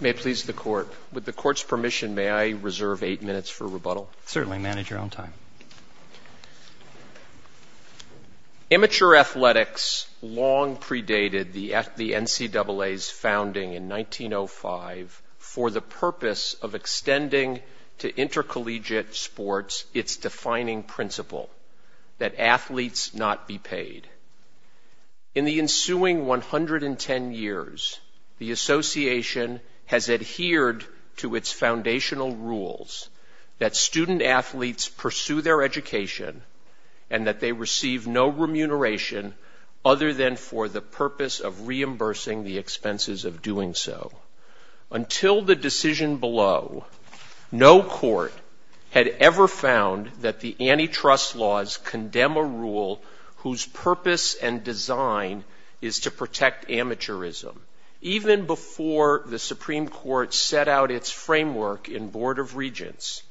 Immature athletics long predated the NCAA's founding in 1905 for the purpose of extending to intercollegiate sports its defining principle, that athletes not be paid. In the ensuing 110 years, the Association has adhered to its foundational rules that student athletes pursue their education and that they receive no remuneration other than for the purpose of reimbursing the expenses of doing so. Until the decision below, no court had ever found that the antitrust laws condemn a rule whose purpose and design is to protect amateurism. Even before the Supreme Court set out its framework in Board of Regents,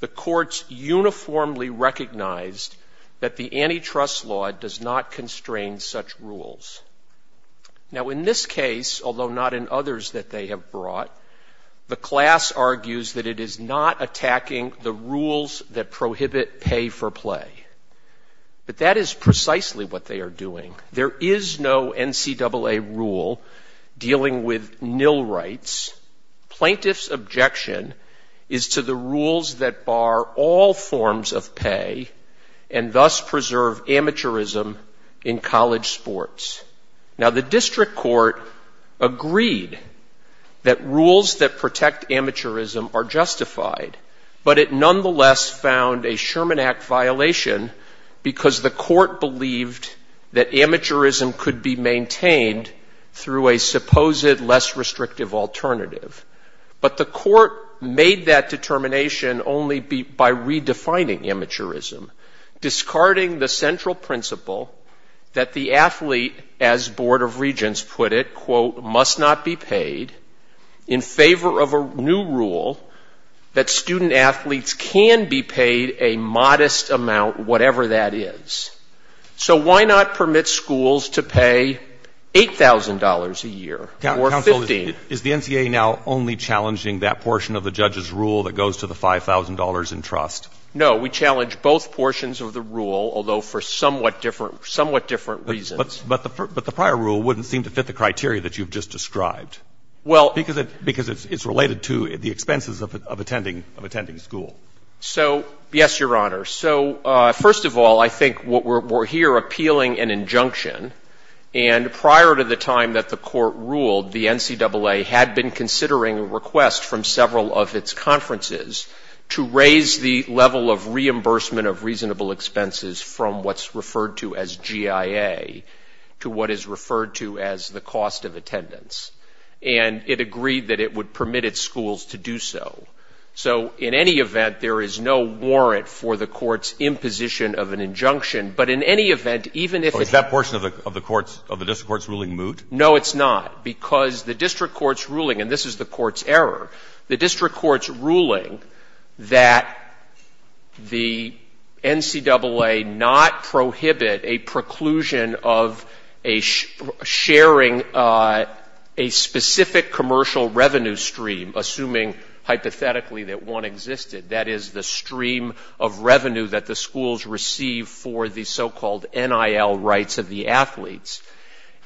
the courts uniformly recognized that the antitrust law does not constrain such rules. Now in this case, although not in others that they have brought, the class argues that it is not attacking the prohibit pay for play. But that is precisely what they are doing. There is no NCAA rule dealing with nil rights. Plaintiff's objection is to the rules that bar all forms of pay and thus preserve amateurism in college sports. Now the district court agreed that rules that protect amateurism are justified, but it nonetheless found a Sherman Act violation because the court believed that amateurism could be maintained through a supposed less restrictive alternative. But the court made that determination only by redefining amateurism, discarding the central principle that the athlete, as Board of Regents put it, quote, must not be paid in favor of a new rule that student-athletes can be paid a modest amount, whatever that is. So why not permit schools to pay $8,000 a year? Is the NCAA now only challenging that portion of the judge's rule that goes to the $5,000 in trust? No, we challenge both portions of the rule, although for somewhat different reasons. But the prior rule wouldn't seem to fit the criteria that you've just described, because it's related to the expenses of attending school. So yes, Your Honor. So first of all, I think we're here appealing an injunction, and prior to the time that the court ruled, the NCAA had been considering a request from several of its conferences to raise the level of reimbursement of reasonable expenses from what's referred to as GIA to what is referred to as the cost of attendance. And it agreed that it would permit its schools to do so. So in any event, there is no warrant for the court's imposition of an injunction. But in any event, even if... Is that portion of the district court's ruling moot? No, it's not, because the district court's ruling, and this is the court's error, the district court's ruling that the NCAA not prohibit a preclusion of a sharing a specific commercial revenue stream, assuming hypothetically that one existed. That is, the stream of revenue that the schools receive for the so-called NIL rights of the athletes.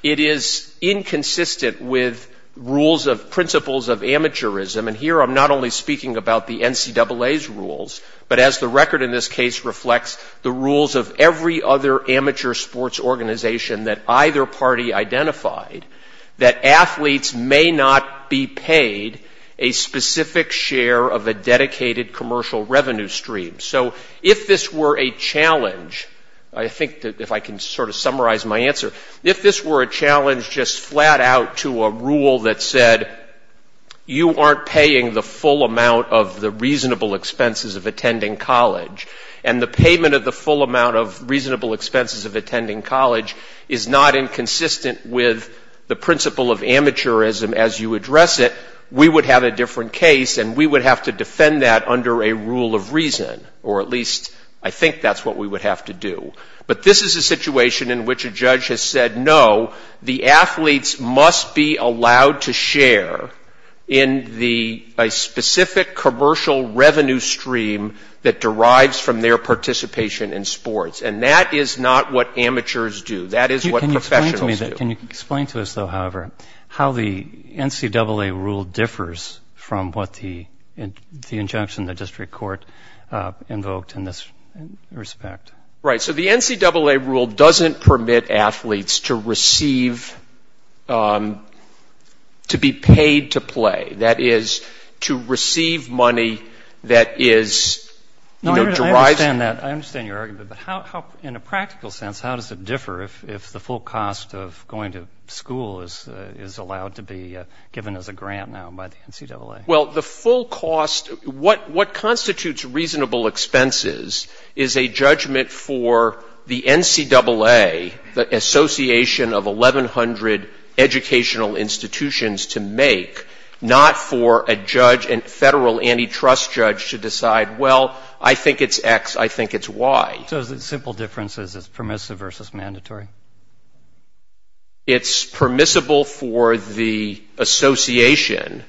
It is inconsistent with rules of principles of amateurism, and here I'm not only speaking about the NCAA's rules, but as the record in this case reflects the rules of every other amateur sports organization that either party identified, that athletes may not be paid a specific share of a dedicated commercial revenue stream. So if this were a challenge, I think that I can sort of summarize my answer. If this were a challenge just flat out to a rule that said, you aren't paying the full amount of the reasonable expenses of attending college, and the payment of the full amount of reasonable expenses of attending college is not inconsistent with the principle of amateurism as you address it, we would have a different case, and we would have to defend that under a rule of reason, or at least I think that's what we would have to do. But this is a situation in which a judge has said, no, the athletes must be allowed to share in a specific commercial revenue stream that derives from their participation in sports, and that is not what amateurs do. That is what professionals do. Can you explain to us, though, however, how the NCAA rule differs from what the injunction the respect? Right. So the NCAA rule doesn't permit athletes to receive, to be paid to play. That is, to receive money that is, you know, derived. I understand that. I understand your argument, but how, in a practical sense, how does it differ if the full cost of going to school is allowed to be given as a grant now by the NCAA? Well, the full cost, what constitutes reasonable expenses is a judgment for the NCAA, the association of 1,100 educational institutions to make, not for a judge, a federal antitrust judge to decide, well, I think it's X, I think it's Y. So the simple difference is it's permissive versus mandatory? It's permissible for the association,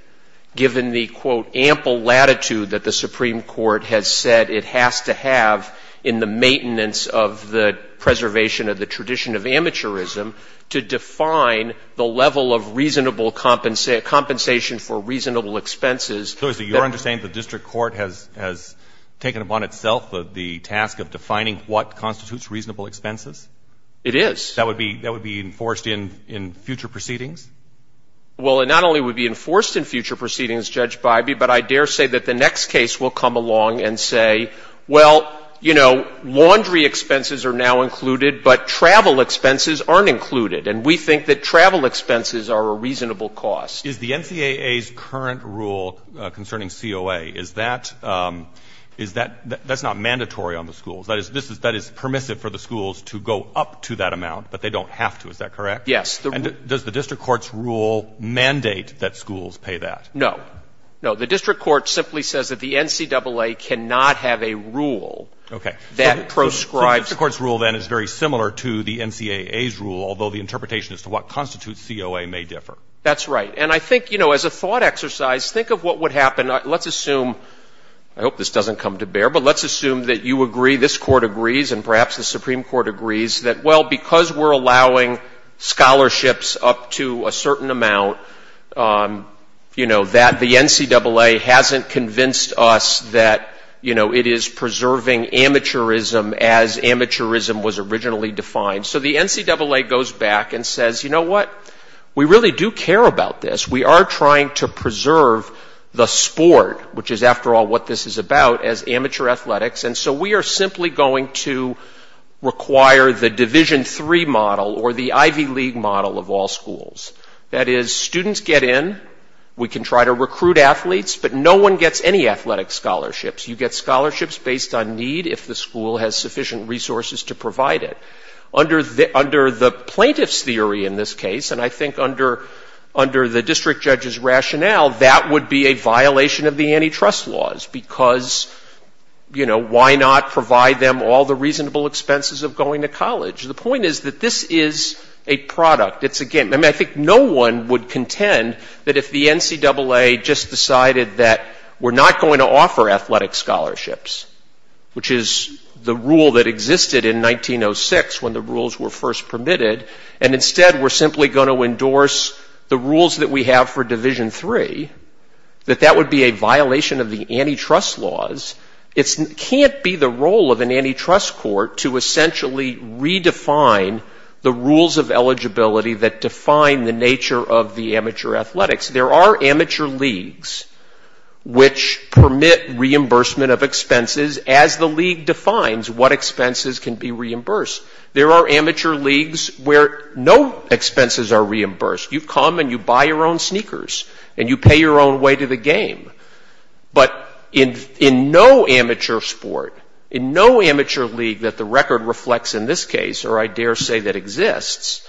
given the, quote, ample latitude that the Supreme Court has said it has to have in the maintenance of the preservation of the tradition of amateurism, to define the level of reasonable compensation for reasonable expenses. So is it your understanding the district court has taken upon itself the task of defining what constitutes reasonable expenses? It is. That would be enforced in future proceedings? Well, it not only would be enforced in future proceedings, Judge Bybee, but I dare say that the next case will come along and say, well, you know, laundry expenses are now included, but travel expenses aren't included, and we think that travel expenses are a reasonable cost. Is the NCAA's current rule concerning COA, is that, that's not mandatory on the schools, that is permissive for the schools to go up to that amount, but they don't have to, is that correct? Yes. And does the district court's rule mandate that schools pay that? No. No, the district court simply says that the NCAA cannot have a rule that proscribes... The district court's rule, then, is very similar to the NCAA's rule, although the interpretation as to what constitutes COA may differ. That's right. And I think, you know, as a thought exercise, think of what would happen, let's assume, I hope this doesn't come to bear, but let's assume that you agree, this court agrees, and perhaps the Supreme Court agrees that, well, because we're allowing scholarships up to a certain amount, you know, that the NCAA hasn't convinced us that, you know, it is preserving amateurism as amateurism was originally defined. So the NCAA goes back and says, you know what, we really do care about this, we are trying to preserve the sport, which is, after all, what this is about, as amateur athletics, and so we are simply going to require the Division III model or the Ivy League model of all schools. That is, students get in, we can try to recruit athletes, but no one gets any athletic scholarships. You get scholarships based on need if the school has sufficient resources to provide it. Under the plaintiff's theory in this case, and I think under the district judge's rationale, that would be a violation of the antitrust laws, because, you know, why not provide them all the reasonable expenses of going to college? The point is that this is a product, it's a game. I think no one would contend that if the NCAA just decided that we are not going to offer athletic scholarships, which is the rule that existed in 1906 when the rules were first permitted, and instead we are simply going to endorse the rules that we have for Division III, that that would be a violation of the antitrust laws. It can't be the role of an antitrust court to essentially redefine the rules of eligibility that define the nature of the league, which permit reimbursement of expenses as the league defines what expenses can be reimbursed. There are amateur leagues where no expenses are reimbursed. You come and you buy your own sneakers and you pay your own way to the game. But in no amateur sport, in no amateur league that the record reflects in this case, or I dare say that exists,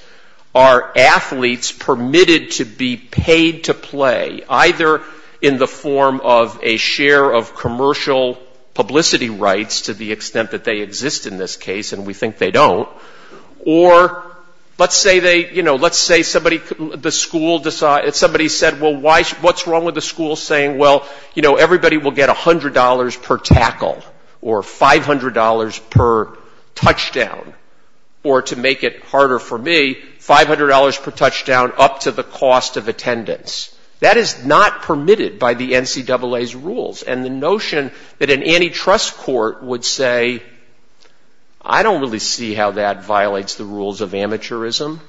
are athletes permitted to be paid to play, either in the form of a share of commercial publicity rights to the extent that they exist in this case, and we think they don't, or let's say somebody said, well, what's wrong with the school saying, well, everybody will get $100 per tackle, or $500 per touchdown, or to make it not permitted by the NCAA's rules. And the notion that an antitrust court would say, I don't really see how that violates the rules of amateurism.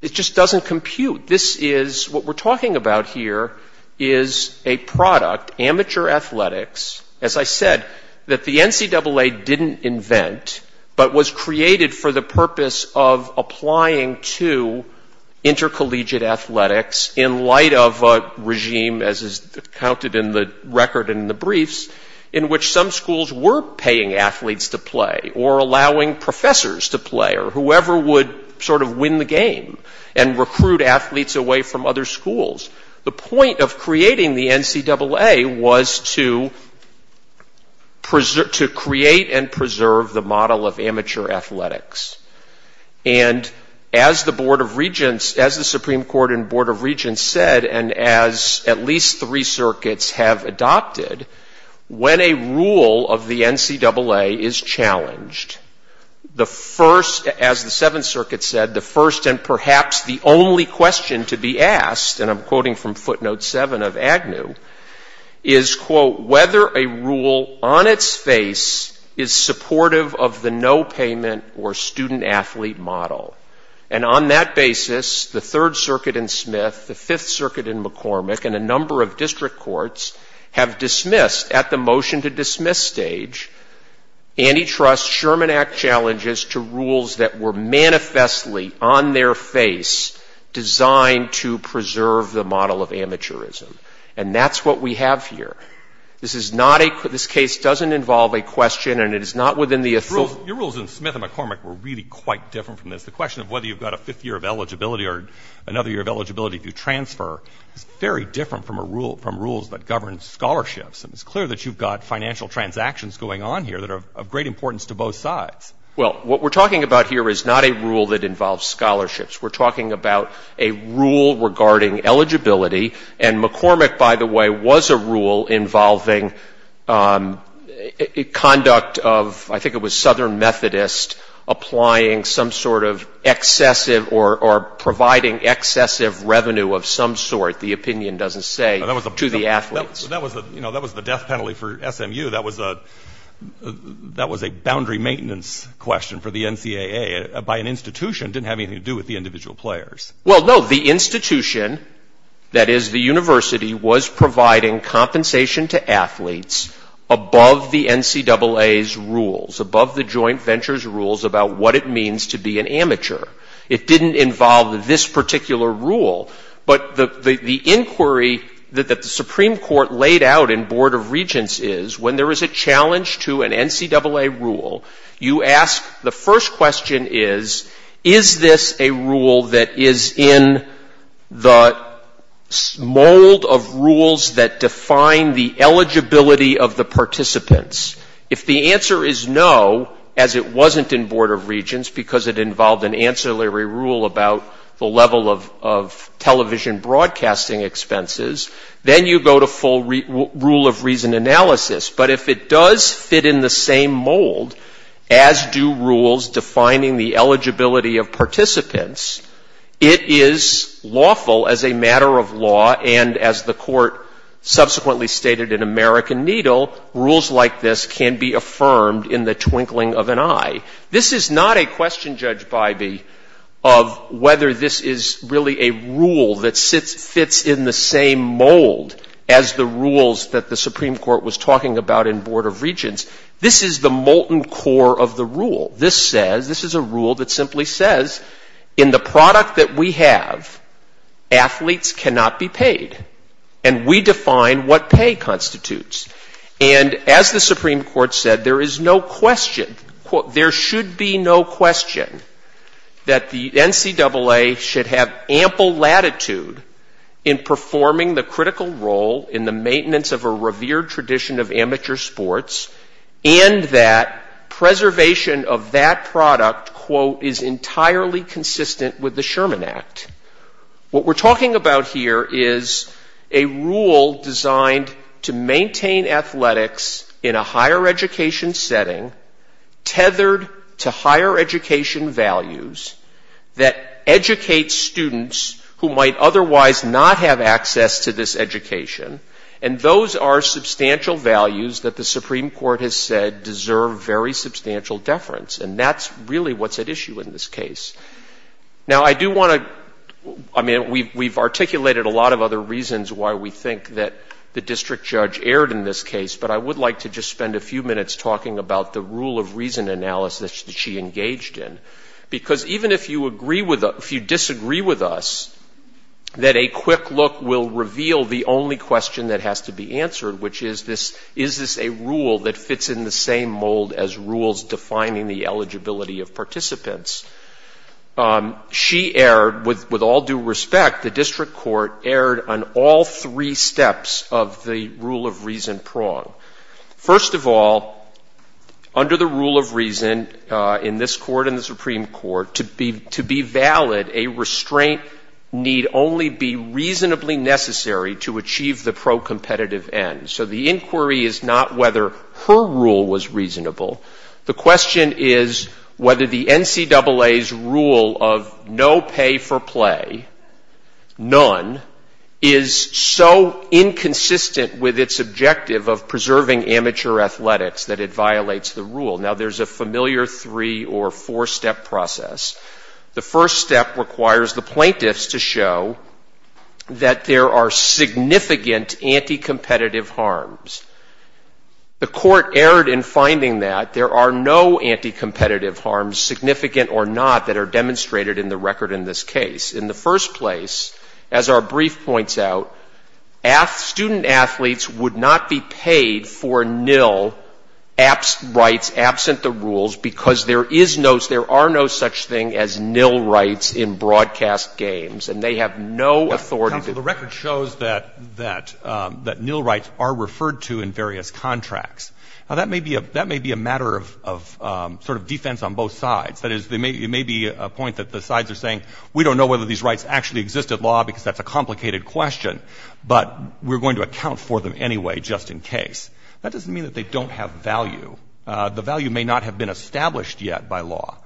It just doesn't compute. This is what we're talking about here is a product, amateur athletics, as I said, that the NCAA didn't invent, but was created for the purpose of applying to intercollegiate athletics in light of a regime, as is counted in the record in the briefs, in which some schools were paying athletes to play, or allowing professors to play, or whoever would sort of win the game and recruit athletes away from other schools. The point of creating the NCAA was to create and preserve the model of amateur athletics. And as the Board of Regents, as the Supreme Court and Board of Regents said, and as at least three circuits have adopted, when a rule of the NCAA is challenged, the first, as the Seventh Circuit said, the first and perhaps the only question to be asked, and I'm quoting from footnote seven of Agnew, is, quote, whether a rule on its face is supportive of the no-payment or student-athlete model. And on that basis, the Third Circuit in Smith, the Fifth Circuit in McCormick, and a number of district courts have dismissed, at the motion to dismiss stage, antitrust Sherman Act challenges to rules that were manifestly on their face designed to preserve the model of amateurism. And that's what we have here. This is not a, this case doesn't involve a question, and it is not within the authority. Your rules in Smith and McCormick were really quite different from this. The question of whether you've got a fifth year of eligibility or another year of eligibility to transfer is very different from a rule, from rules that govern scholarships. And it's clear that you've got financial transactions going on here that are of great importance to both sides. Well, what we're talking about here is not a rule that involves scholarships. We're talking about a rule regarding eligibility. And McCormick, by the way, was a rule involving conduct of, I think it was Southern Methodist, applying some sort of excessive or providing excessive revenue of some sort, the opinion doesn't say, to the athletes. That was the death penalty for SMU. That was a boundary maintenance question for the NCAA by an institution that didn't have anything to do with the individual players. Well, no, the institution, that is the university, was providing compensation to athletes above the NCAA's rules, above the joint venture's rules about what it means to be an amateur. It didn't involve this particular rule. But the inquiry that the Supreme Court laid out in Board of Regents is, when there is a challenge to an NCAA rule, you ask, the first question is, is this a rule that is in the mold of rules that define the eligibility of the participants? If the answer is no, as it wasn't in Board of Regents because it involved an ancillary rule about the level of television broadcasting expenses, then you go to full rule of reason analysis. But if it does fit in the same mold, as do rules defining the eligibility of participants, it is lawful as a matter of law, and as the court subsequently stated in American Needle, rules like this can be affirmed in the twinkling of an eye. This is not a question, Judge Bybee, of whether this is really a rule that fits in the same mold as the rules that the Supreme Court was talking about in Board of Regents. This is the molten core of the rule. This says, this is a rule that simply says, in the product that we have, athletes cannot be paid. And we define what pay constitutes. And as the Supreme Court said, there is no question, there should be no question, that the NCAA should have ample latitude in performing the critical role in the maintenance of a revered tradition of amateur sports, and that preservation of that product, quote, is entirely consistent with the Sherman Act. What we're talking about here is a rule designed to maintain athletics in a higher education setting, tethered to higher education values that educate students who might otherwise not have access to this education. And those are substantial values that the Supreme Court has said deserve very substantial deference. And that's really what's at issue in this case. Now, I do want to, I mean, we've articulated a lot of other reasons why we think that the district judge erred in this case, but I would like to just spend a few minutes on an analysis that she engaged in. Because even if you agree with us, if you disagree with us, that a quick look will reveal the only question that has to be answered, which is this, is this a rule that fits in the same mold as rules defining the eligibility of participants? She erred, with all due respect, the district court erred on all three steps of the rule of in this court and the Supreme Court. To be valid, a restraint need only be reasonably necessary to achieve the pro-competitive end. So the inquiry is not whether her rule was reasonable. The question is whether the NCAA's rule of no pay for play, none, is so inconsistent with its objective of familiar three or four step process. The first step requires the plaintiffs to show that there are significant anti-competitive harms. The court erred in finding that there are no anti-competitive harms, significant or not, that are demonstrated in the record in this case. In the first place, as our brief points out, student athletes would not be paid for nil rights absent the rules because there are no such thing as nil rights in broadcast games, and they have no authority. The record shows that nil rights are referred to in various contracts. Now, that may be a matter of sort of defense on both sides. That is, it may be a point that the sides are saying, we don't know whether these rights actually exist at law because that's a complicated question, but we're going to account for them anyway just in case. That doesn't mean they don't have value. The value may not have been established yet by law,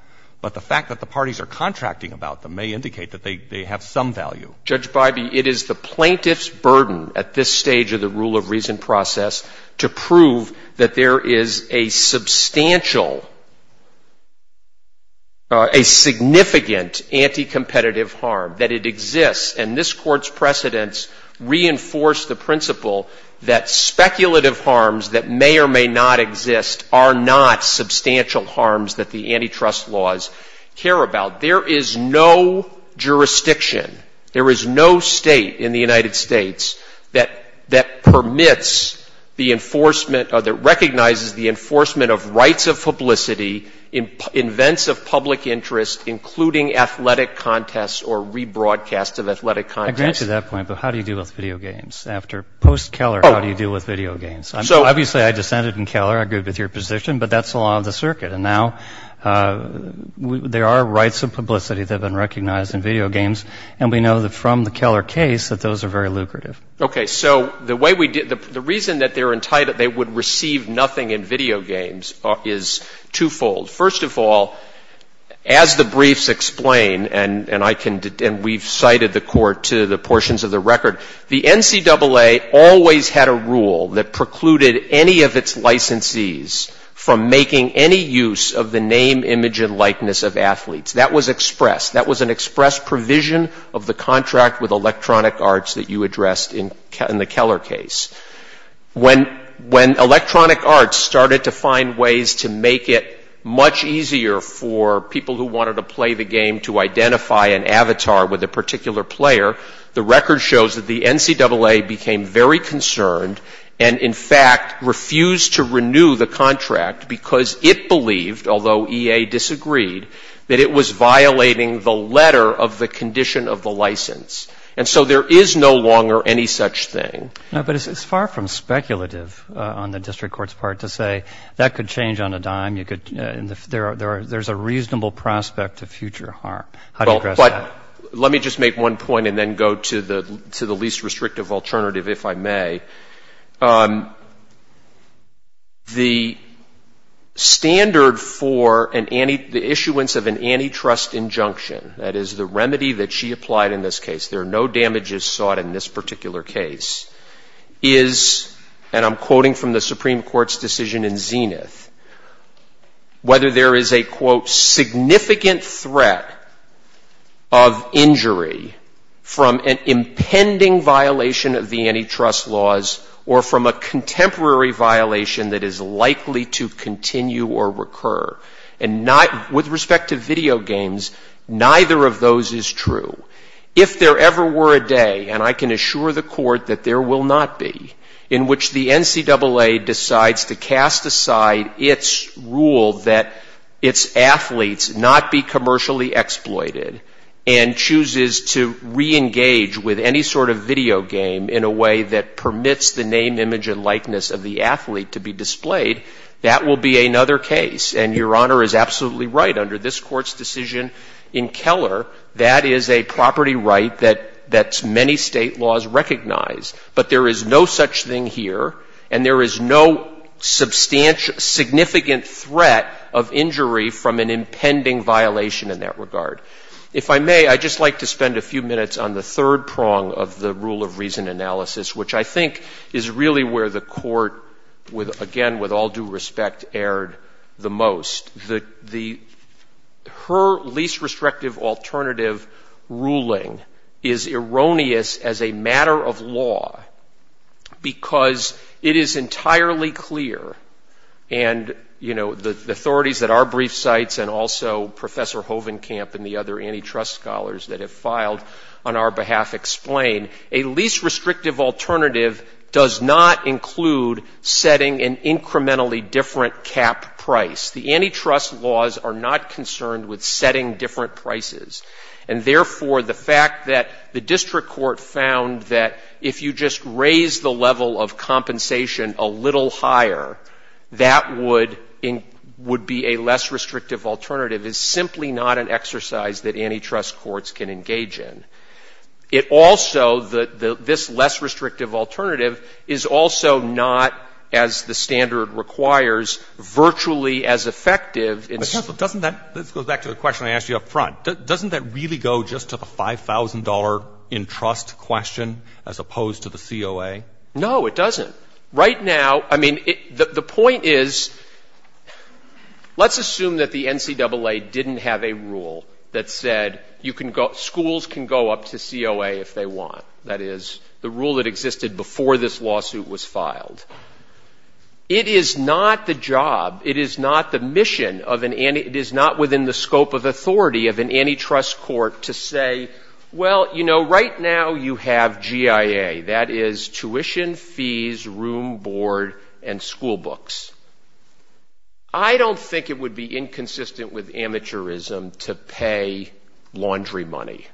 but the fact that the parties are contracting about them may indicate that they have some value. Judge Bybee, it is the plaintiff's burden at this stage of the rule of reason process to prove that there is a substantial, a significant anti-competitive harm, that it exists, and this Court's precedents reinforce the principle that speculative harms that may or may not exist are not substantial harms that the antitrust laws care about. There is no jurisdiction, there is no state in the United States that permits the enforcement or that recognizes the enforcement of rights of publicity in events of public interest, including athletic contests or rebroadcasts of athletic contests. I grant you that point, but how do you deal with video games? Post Keller, how do you deal with video games? Obviously, I dissented in Keller. I agree with your position, but that's the law of the circuit, and now there are rights of publicity that have been recognized in video games, and we know that from the Keller case that those are very lucrative. Okay, so the reason that they would receive nothing in video games is twofold. First of all, as the briefs explain, and we've cited the Court to the portions of the record, the NCAA always had a rule that precluded any of its licensees from making any use of the name, image, and likeness of athletes. That was expressed. That was an express provision of the contract with Electronic Arts that you addressed in the Keller case. When Electronic Arts started to find ways to make it much easier for people who wanted to play the game to identify an avatar with a particular player, the record shows that the NCAA became very concerned and, in fact, refused to renew the contract because it believed, although EA disagreed, that it was violating the letter of the condition of the license, and so there is no longer any such thing. But it's far from speculative on the district court's part to say that could change on a dime. There's a reasonable prospect of future harm. Let me just make one point and then go to the least restrictive alternative, if I may. The standard for the issuance of an antitrust injunction, that is the remedy that she applied in this case, there are no damages sought in this particular case, is, and I'm quoting from the Supreme Court's decision in Zenith, whether there is a, quote, significant threat of injury from an impending violation of the antitrust laws or from a contemporary violation that is likely to If there ever were a day, and I can assure the court that there will not be, in which the NCAA decides to cast aside its rule that its athletes not be commercially exploited and chooses to reengage with any sort of video game in a way that permits the name, image, and likeness of the athlete to be displayed, that will be another case. And Your Honor is absolutely right. Under this that's many state laws recognized, but there is no such thing here, and there is no substantial, significant threat of injury from an impending violation in that regard. If I may, I'd just like to spend a few minutes on the third prong of the rule of reason analysis, which I think is really where the court, again, with all due respect, erred the most. Her least restrictive alternative ruling is erroneous as a matter of law because it is entirely clear, and, you know, the authorities at our brief sites and also Professor Hovenkamp and the other antitrust scholars that have filed on our behalf explain, a least restrictive alternative does not include setting an incrementally different cap price. The antitrust laws are not concerned with setting different prices, and, therefore, the fact that the district court found that if you just raise the level of compensation a little higher, that would be a less restrictive alternative is simply not an exercise that antitrust courts can engage in. It also, this less restrictive alternative, is also not, as the standard requires, virtually as effective. Let's go back to the question I asked you up front. Doesn't that really go just to the $5,000 in trust question as opposed to the COA? No, it doesn't. Right now, I mean, the point is, let's assume that the NCAA didn't have a rule that said schools can go up to COA if they want. That is, the rule that existed before this is not the job, it is not the mission, it is not within the scope of authority of an antitrust court to say, well, you know, right now you have GIA, that is tuition, fees, room, board, and school books. I don't think it would be inconsistent with amateurism to pay laundry money.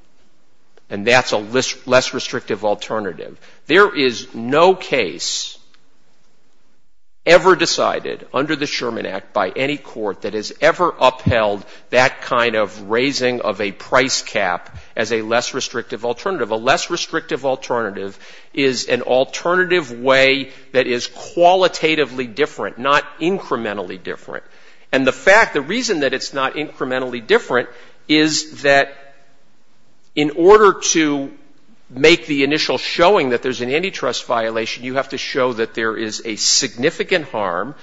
And that's a less restrictive alternative. There is no case ever decided under the Sherman Act by any court that has ever upheld that kind of raising of a price cap as a less restrictive alternative. A less restrictive alternative is an alternative way that is qualitatively different, not incrementally different. And the fact, the reason that it's not incrementally different is that in order to make the initial showing that there's an antitrust violation, you have to show that there is a significant harm.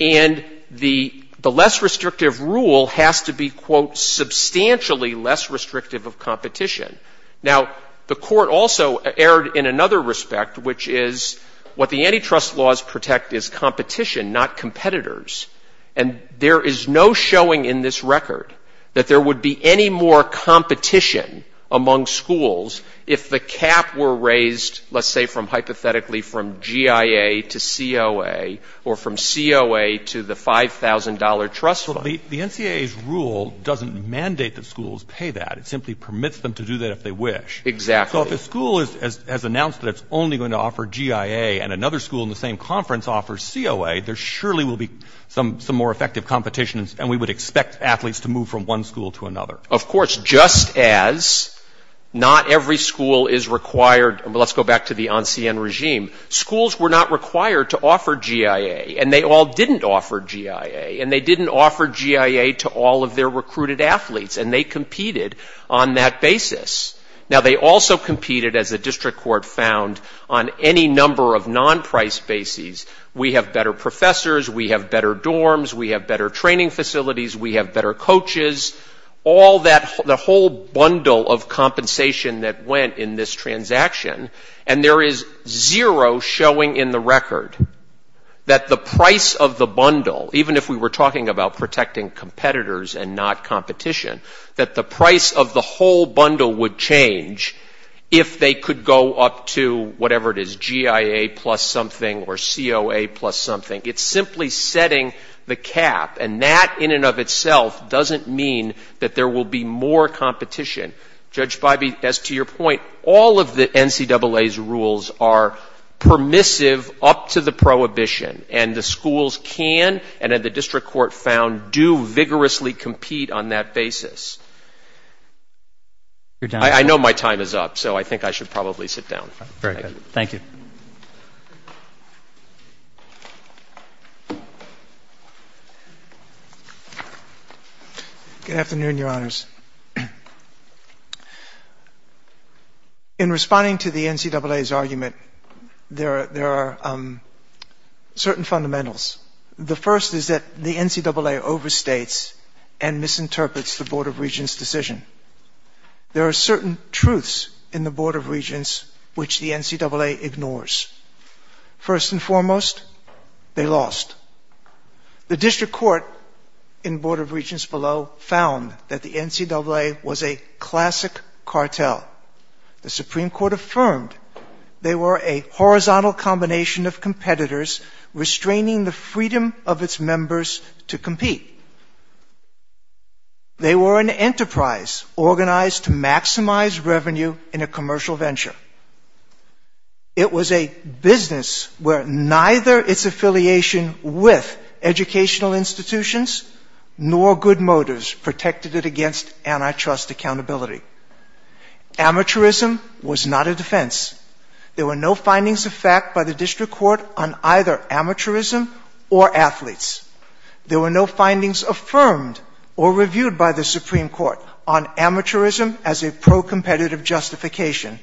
And the less restrictive rule has to be, quote, substantially less restrictive of competition. Now, the court also erred in another respect, which is what the antitrust laws protect is competition, not competitors. And there is no showing in this record that there would be any more competition among schools if the cap were raised, let's say, from hypothetically from GIA to COA or from COA to the $5,000 trust fund. The NCAA's rule doesn't mandate that schools pay that. It simply permits them to do that if they wish. Exactly. So if a school has announced that it's only going to offer GIA and another school in the same conference offers COA, there surely will be some more effective competitions. And we would expect athletes to move from one school to another. Of course, just as not every school is required. Let's go back to the ANSIEN regime. Schools were not required to offer GIA. And they all didn't offer GIA. And they didn't offer GIA to all of their recruited athletes. And they competed on that basis. Now, they also competed, as the district court found, on any number of non-price bases. We have better professors. We have better dorms. We have better training facilities. We have better coaches. All that, the whole bundle of compensation that went in this transaction. And there is zero showing in the record that the price of the bundle, even if we were talking about protecting competitors and not competition, that the price of the whole bundle would change if they could go up to whatever it is, GIA plus something or COA plus something. It's simply setting the cap. And that, in and of itself, doesn't mean that there will be more competition. Judge Feibe, as to your point, all of the NCAA's rules are permissive up to the prohibition. And the schools can, and the district court found, do vigorously compete on that basis. I know my time is up. So I think I should probably sit down. Very good. Thank you. Good afternoon, Your Honors. In responding to the NCAA's argument, there are certain fundamentals. The first is that the NCAA overstates and misinterprets the Board of Regents' decision. There are certain truths in the Board of Regents which the NCAA ignores. First and foremost, they lost. The district court in Board of Regents below found that the NCAA was a classic cartel. The Supreme Court affirmed they were a horizontal combination of competitors restraining the freedom of its members to compete. They were an enterprise organized to maximize revenue in a commercial venture. It was a business where neither its affiliation with educational institutions nor good motives protected it against antitrust accountability. Amateurism was not a defense. There were no findings of fact by the district court on either amateurism or athletes. There were no findings affirmed or reviewed by the Supreme Court on amateurism as a pro-competitive justification.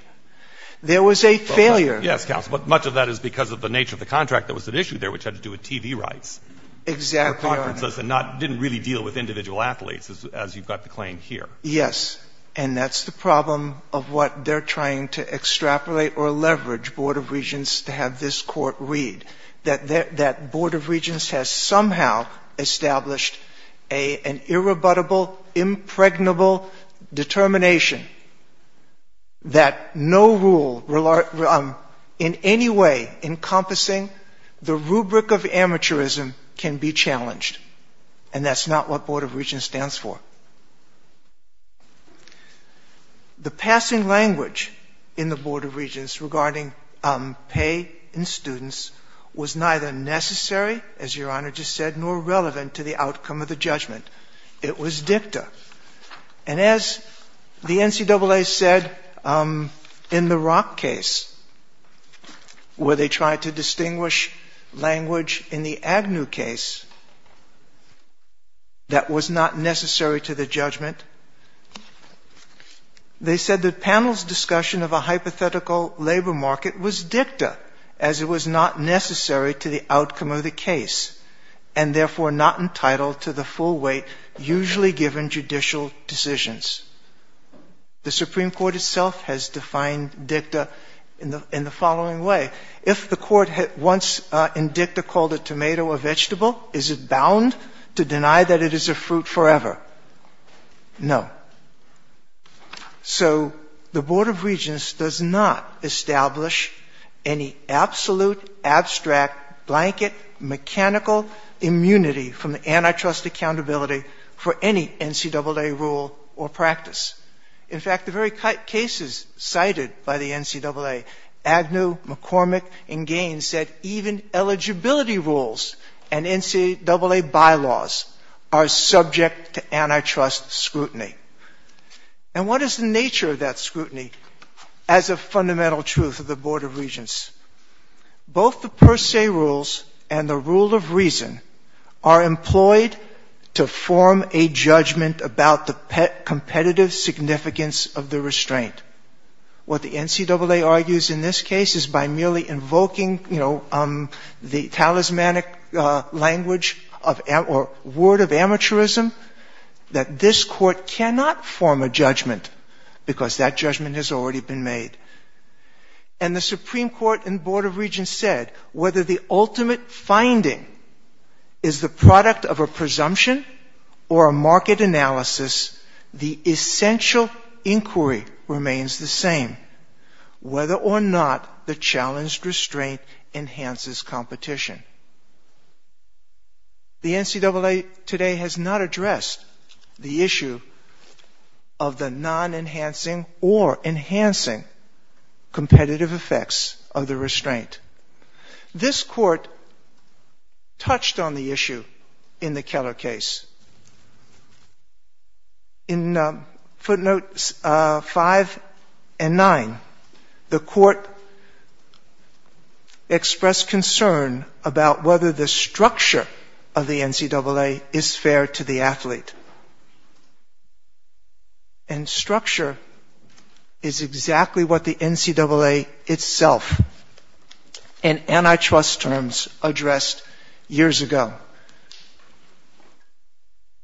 There was a failure. Yes, counsel, but much of that is because of the nature of the contract that was at issue there which had to do with TV rights. Exactly. It didn't really deal with individual athletes as you've got the claim here. Yes, and that's the problem of what they're trying to extrapolate or leverage Board of Regents to have this court read. That Board of Regents has somehow established an irrebuttable, impregnable determination that no rule in any way encompassing the rubric of amateurism can be challenged and that's not what Board of Regents stands for. The passing language in the Board of Regents regarding pay in students was neither necessary, as your Honor just said, nor relevant to the outcome of the judgment. It was dicta. And as the NCAA said in the Rock case where they tried to distinguish language in the Agnew case that was not necessary to the judgment, they said the panel's discussion of a hypothetical labor market was dicta as it was not necessary to the outcome of the case and therefore not entitled to the full weight usually given judicial decisions. The Supreme Court itself has defined dicta in the following way. If the court once in dicta called a tomato a vegetable, is it bound to deny that it is a fruit forever? No. So the Board of Regents does not establish any absolute, abstract, blanket, mechanical immunity from the antitrust accountability for any NCAA rule or practice. In fact, the very cases cited by the NCAA, Agnew, McCormick and Gaines said even eligibility rules and NCAA bylaws are subject to antitrust scrutiny. And what is the nature of that scrutiny as a fundamental truth of the Board of Regents? Both the per se rules and the rule of reason are employed to form a judgment about the competitive significance of the restraint. What the NCAA argues in this case is by invoking the talismanic language or word of amateurism that this court cannot form a judgment because that judgment has already been made. And the Supreme Court and Board of Regents said whether the ultimate finding is the product of a presumption or a market analysis, the essential inquiry remains the same, whether or not the challenged restraint enhances competition. The NCAA today has not addressed the issue of the non-enhancing or enhancing competitive effects of the restraint. This court touched on the issue in the Keller case. In footnotes 5 and 9, the court expressed concern about whether the structure of the NCAA is fair to the athlete. And structure is exactly what the NCAA itself and antitrust terms addressed years ago.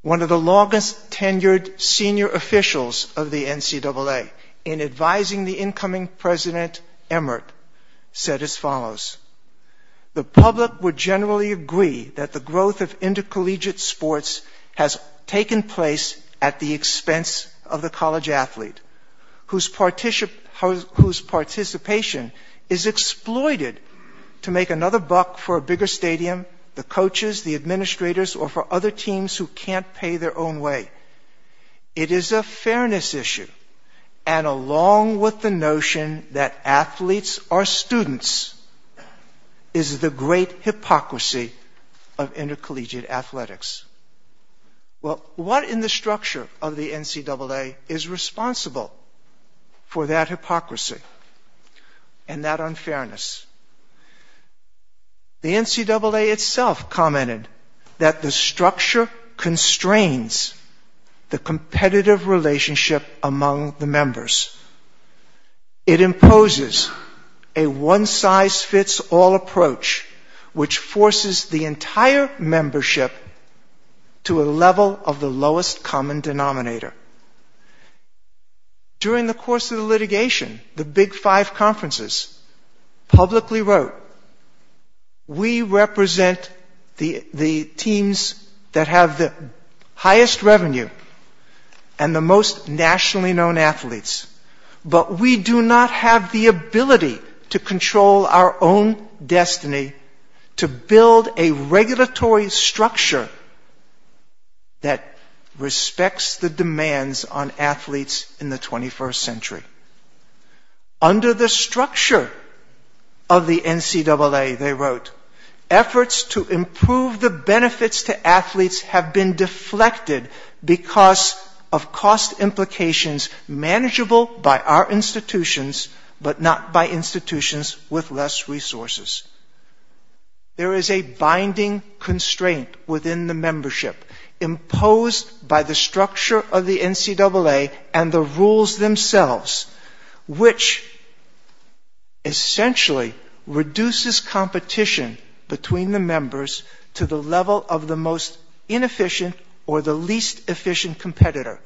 One of the longest tenured senior officials of the NCAA in advising the incoming President Emmerich said as follows, the public would generally agree that the growth of intercollegiate sports has taken place at the expense of the college athlete whose participation is exploited to make another buck for a bigger stadium, the coaches, the administrators, or for other teams who can't pay their own way. It is a fairness issue. And along with the notion that athletes are students is the great hypocrisy of intercollegiate athletics. Well, what in the structure of the NCAA is responsible for that hypocrisy and that unfairness? The NCAA itself commented that the structure constrains the competitive relationship among the members. It imposes a one size fits all approach which forces the entire membership to a level of the lowest common denominator. During the course of the litigation, the big wrote, we represent the teams that have the highest revenue and the most nationally known athletes, but we do not have the ability to control our own destiny to build a regulatory structure that respects the demands on athletes in the 21st century. Under the structure of the NCAA, they wrote, efforts to improve the benefits to athletes have been deflected because of cost implications manageable by our institutions, but not by institutions with less resources. There is a binding constraint within the membership imposed by the structure of the NCAA and the rules themselves, which essentially reduces competition between the members to the level of the most inefficient or the least efficient competitor.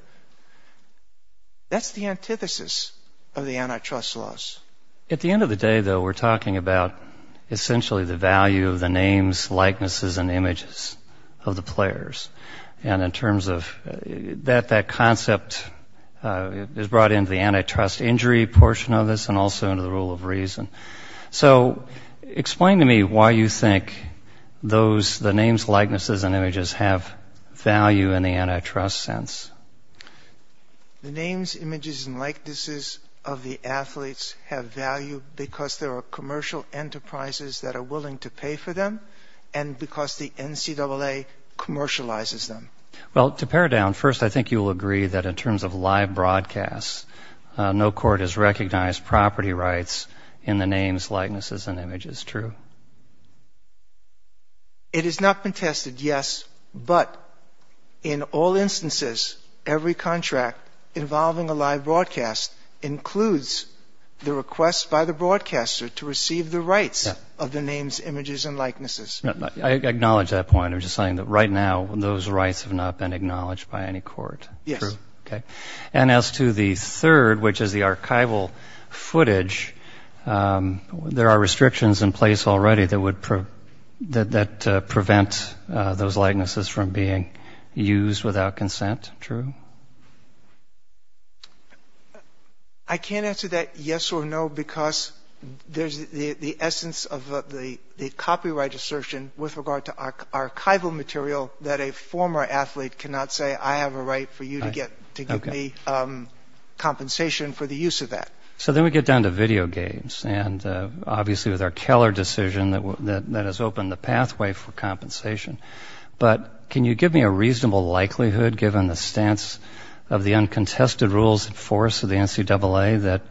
That's the antithesis of the antitrust laws. At the end of the day, though, we're talking about essentially the value of the names, likenesses, and images of the players. That concept is brought into the antitrust injury portion of this and also into the rule of reason. Explain to me why you think the names, likenesses, and images have value in the antitrust sense. The names, images, and likenesses of the athletes have value because there are commercial enterprises that are willing to pay for them and because the NCAA commercializes them. Well, to pare down, first, I think you'll agree that in terms of live broadcasts, no court has recognized property rights in the names, likenesses, and images. True. It has not been tested, yes, but in all instances, every contract involving a live broadcast includes the request by the broadcaster to receive the rights of the names, images, and likenesses. I acknowledge that point. I'm just saying that right now, those rights have not been acknowledged by any court. True. As to the third, which is the archival footage, there are restrictions in place already that that prevents those likenesses from being used without consent. True. I can't answer that yes or no because there's the essence of the copyright assertion with regard to archival material that a former athlete cannot say, I have a right for you to get to give me compensation for the use of that. So then we get down to video games and obviously with our Keller decision that has opened the pathway for compensation, but can you give me a reasonable likelihood, given the stance of the uncontested rules of force of the NCAA,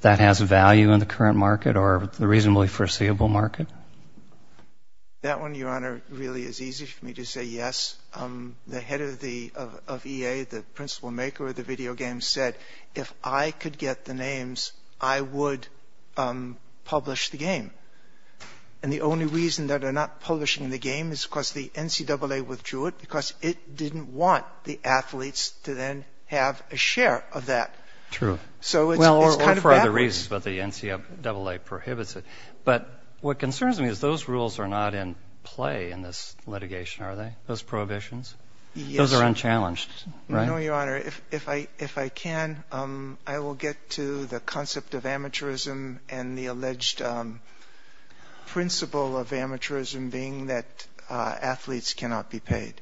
that has value in the current market or the reasonably foreseeable market? That one, Your Honor, really is easy for me to say yes. The head of EA, the principal maker of the names, I would publish the game. And the only reason that they're not publishing the game is because the NCAA withdrew it because it didn't want the athletes to then have a share of that. True. So it's kind of backwards. For other reasons, but the NCAA prohibits it. But what concerns me is those rules are not in play in this litigation, are they? Those prohibitions? Those are unchallenged, right? No, Your Honor. If I can, I will get to the concept of amateurism and the alleged principle of amateurism being that athletes cannot be paid.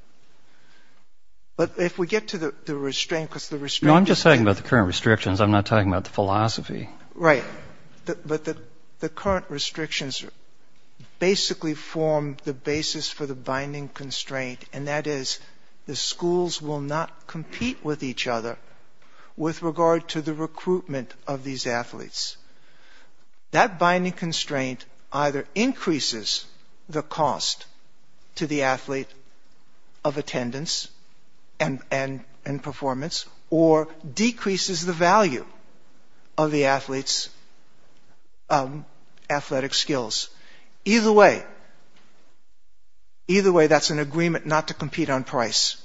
But if we get to the restraint, because the restraint... No, I'm just talking about the current restrictions. I'm not talking about the philosophy. Right. But the current restrictions basically form the basis for the binding constraint, and that is the schools will not compete with each other with regard to the recruitment of these athletes. That binding constraint either increases the cost to the athlete of attendance and performance or decreases the value of the athlete's athletic skills. Either way, that's an agreement not to compete on price.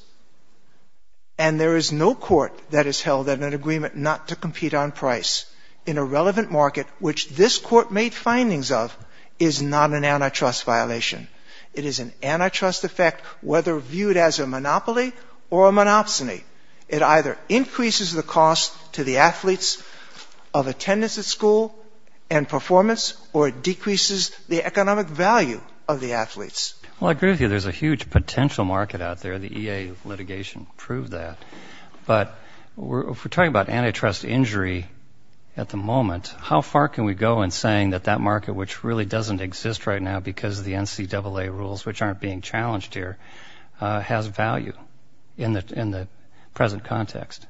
And there is no court that has held that an agreement not to compete on price in a relevant market, which this court made findings of, is not an antitrust violation. It is an antitrust effect, whether viewed as a monopoly or a monopsony. It either increases the cost to the athletes of attendance at school and performance or decreases the economic value of the athletes. Well, I agree with you. There's a huge potential market out there. The EA litigation proved that. But if we're talking about antitrust injury at the moment, how far can we go in saying that that market, which really doesn't exist right now because of the NCAA rules, which aren't being challenged here, has value in the present context?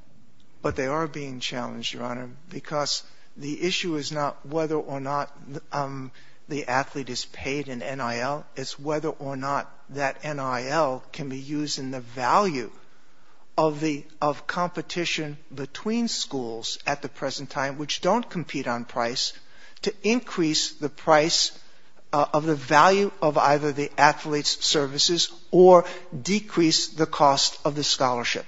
But they are being challenged, Your Honor, because the issue is not whether or not the athlete is paid in NIL. It's whether or not that NIL can be used in the value of competition between schools at the present time, which don't compete on price, to increase the price of the value of either the athlete's services or decrease the cost of the scholarship.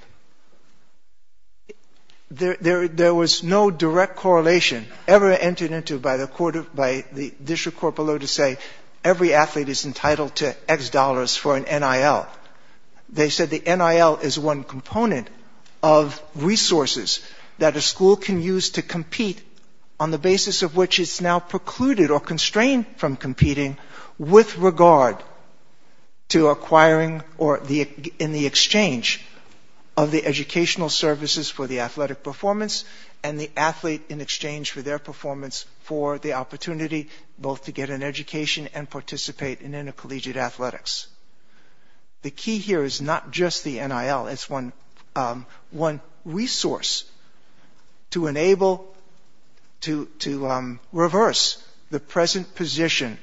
There was no direct correlation ever entered into by the district corporal to say every athlete is entitled to X dollars for an NIL. They said the NIL is one precluded or constrained from competing with regard to acquiring or in the exchange of the educational services for the athletic performance and the athlete in exchange for their performance for the opportunity both to get an education and participate in intercollegiate reverse the present position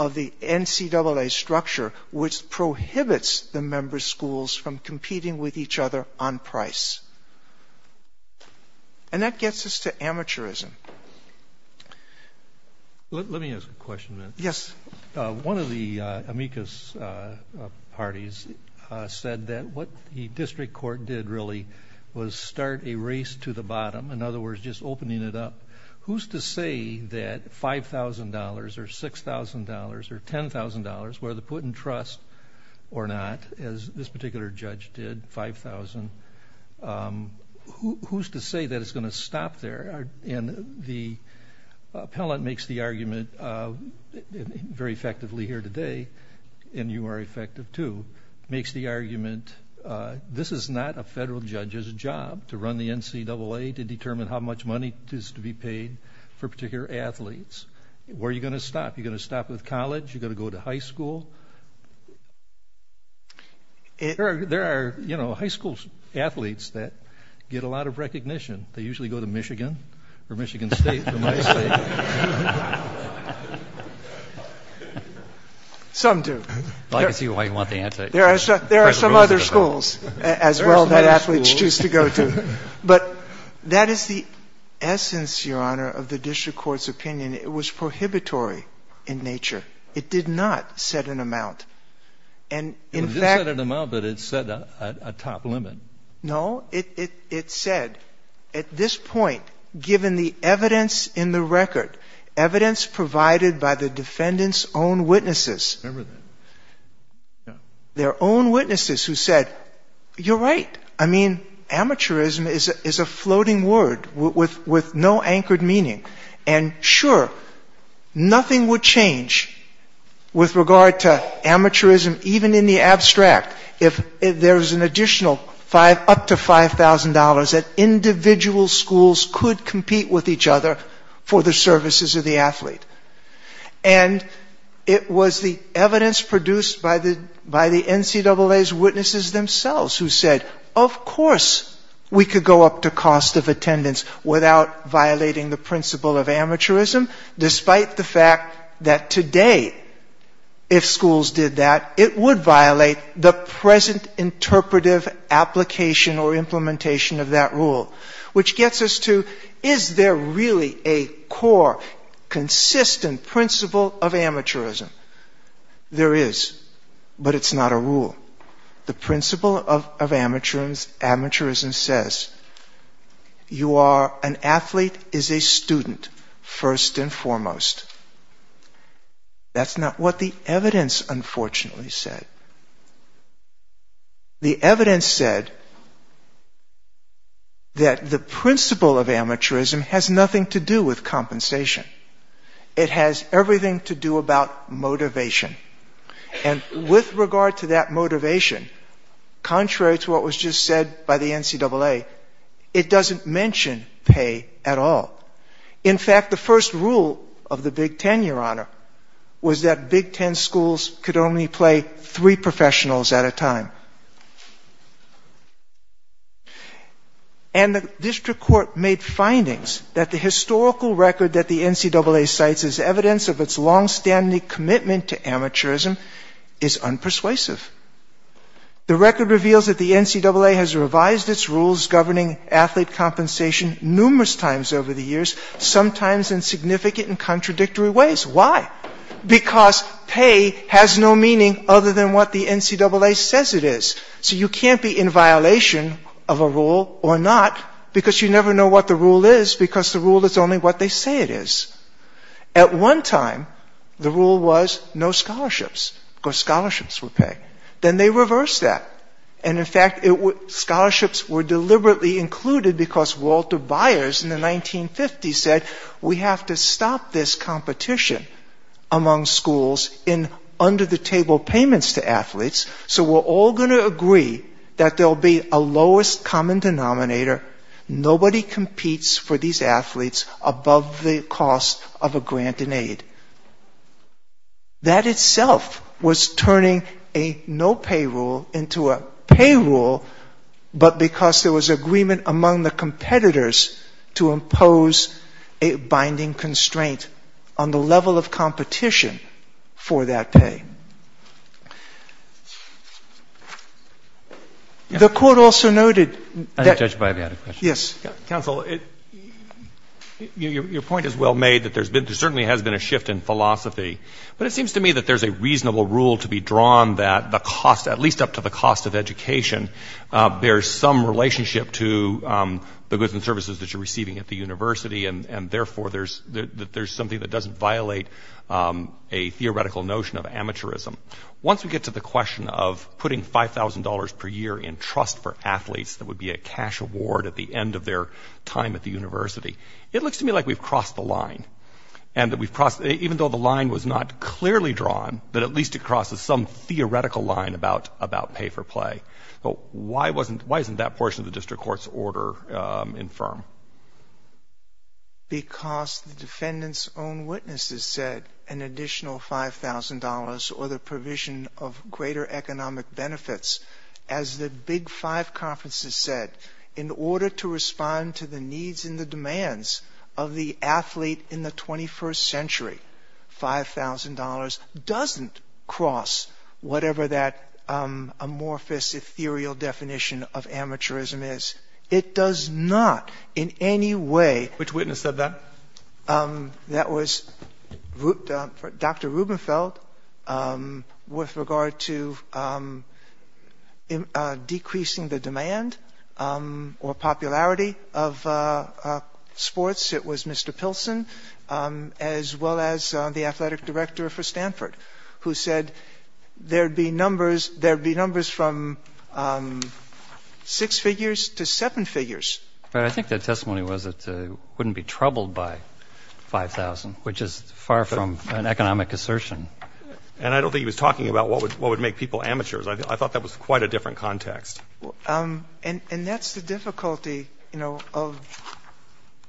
of the NCAA structure, which prohibits the member schools from competing with each other on price. And that gets us to amateurism. Let me ask a question. Yes. One of the amicus parties said that what the district court did was start a race to the bottom. In other words, just opening it up. Who's to say that $5,000 or $6,000 or $10,000, whether put in trust or not, as this particular judge did, $5,000, who's to say that it's going to stop there? And the appellate makes the argument very effectively here today, and you are effective too, makes the argument this is not a federal judge's job to run the NCAA to determine how much money is to be paid for particular athletes. Where are you going to stop? You're going to stop with college? You're going to go to high school? There are high school athletes that get a lot of recognition. They usually go to Michigan or Michigan State. Some do. There are some other schools as well that athletes choose to go to. But that is the essence, Your Honor, of the district court's opinion. It was prohibitory in nature. It did not set an amount. It did set an amount, but it set a top limit. No. It said, at this point, given the evidence in the record, evidence provided by the defendant's own witnesses, their own witnesses who said, you're right. I mean, amateurism is a floating word with no anchored meaning. And sure, nothing would change with regard to amateurism, even in the abstract, if there was an additional up to $5,000 that individual schools could compete with each other for the services of the athlete. And it was the evidence produced by the NCAA's witnesses themselves who said, of course, we could go up to cost of attendance without violating the present interpretive application or implementation of that rule, which gets us to, is there really a core, consistent principle of amateurism? There is, but it's not a rule. The principle of amateurism says, you are, an athlete is a student, first and foremost. That's not what the evidence, unfortunately, said. The evidence said that the principle of amateurism has nothing to do with compensation. It has everything to do about motivation. And with regard to that motivation, contrary to what was just said by the NCAA, it doesn't mention pay at all. In fact, the first rule of the Big Ten, Your Honor, was that Big Ten schools could only play three professionals at a time. And the district court made findings that the historical record that the NCAA cites as evidence of its longstanding commitment to amateurism is unpersuasive. The record reveals that the NCAA has revised its rules governing athlete compensation numerous times over the years, sometimes in significant and contradictory ways. Why? Because pay has no meaning other than what the NCAA says it is. So you can't be in violation of a rule or not, because you never know what the rule is, because the rule is only what they say it is. At one time, the rule was no scholarships, because scholarships were paid. Then they reversed that. And in fact, scholarships were deliberately included because Walter Byers in the 1950s said, we have to stop this competition among schools in under-the-table payments to athletes. So we're all going to agree that there will be a lowest common denominator. Nobody competes for these athletes above the cost of a grant and aid. That itself was turning a no-pay rule into a pay rule, but because there was agreement among the competitors to impose a binding constraint on the level of competition for that pay. The court also noted that... I'm not judged by that. Yes. Counsel, your point is well made that there's been, there certainly has been a shift in philosophy, but it seems to me that there's a reasonable rule to be drawn that the cost, at least up to the cost of education, there's some relationship to the goods and services that you're receiving at the university, and therefore there's something that doesn't violate a theoretical notion of amateurism. Once we get to the question of putting $5,000 per year in trust for athletes that would be a cash award at the end of their time at the university, it looks to me like we've the line was not clearly drawn, but at least it crosses some theoretical line about pay for play, but why isn't that portion of the district court's order infirm? Because the defendant's own witnesses said an additional $5,000 or the provision of greater economic benefits. As the big five conferences said, in order to respond to the needs and the $5,000 doesn't cross whatever that amorphous, ethereal definition of amateurism is. It does not in any way, which witness said that, that was Dr. Rubenfeld with regard to the athletic director for Stanford, who said there'd be numbers from six figures to seven figures. But I think that testimony was that wouldn't be troubled by $5,000, which is far from an economic assertion. And I don't think he was talking about what would make people amateurs. I thought that was quite a different context. And that's the difficulty of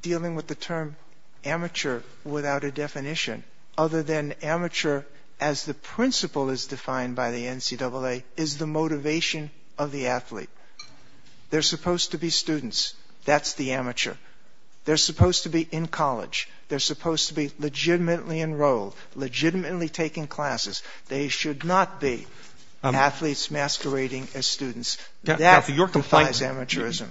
dealing with the term amateur without a definition other than amateur as the principle is defined by the NCAA is the motivation of the athlete. They're supposed to be students. That's the amateur. They're supposed to be in college. They're supposed to be legitimately enrolled, legitimately taking classes. They should not be athletes masquerading as students. Yeah.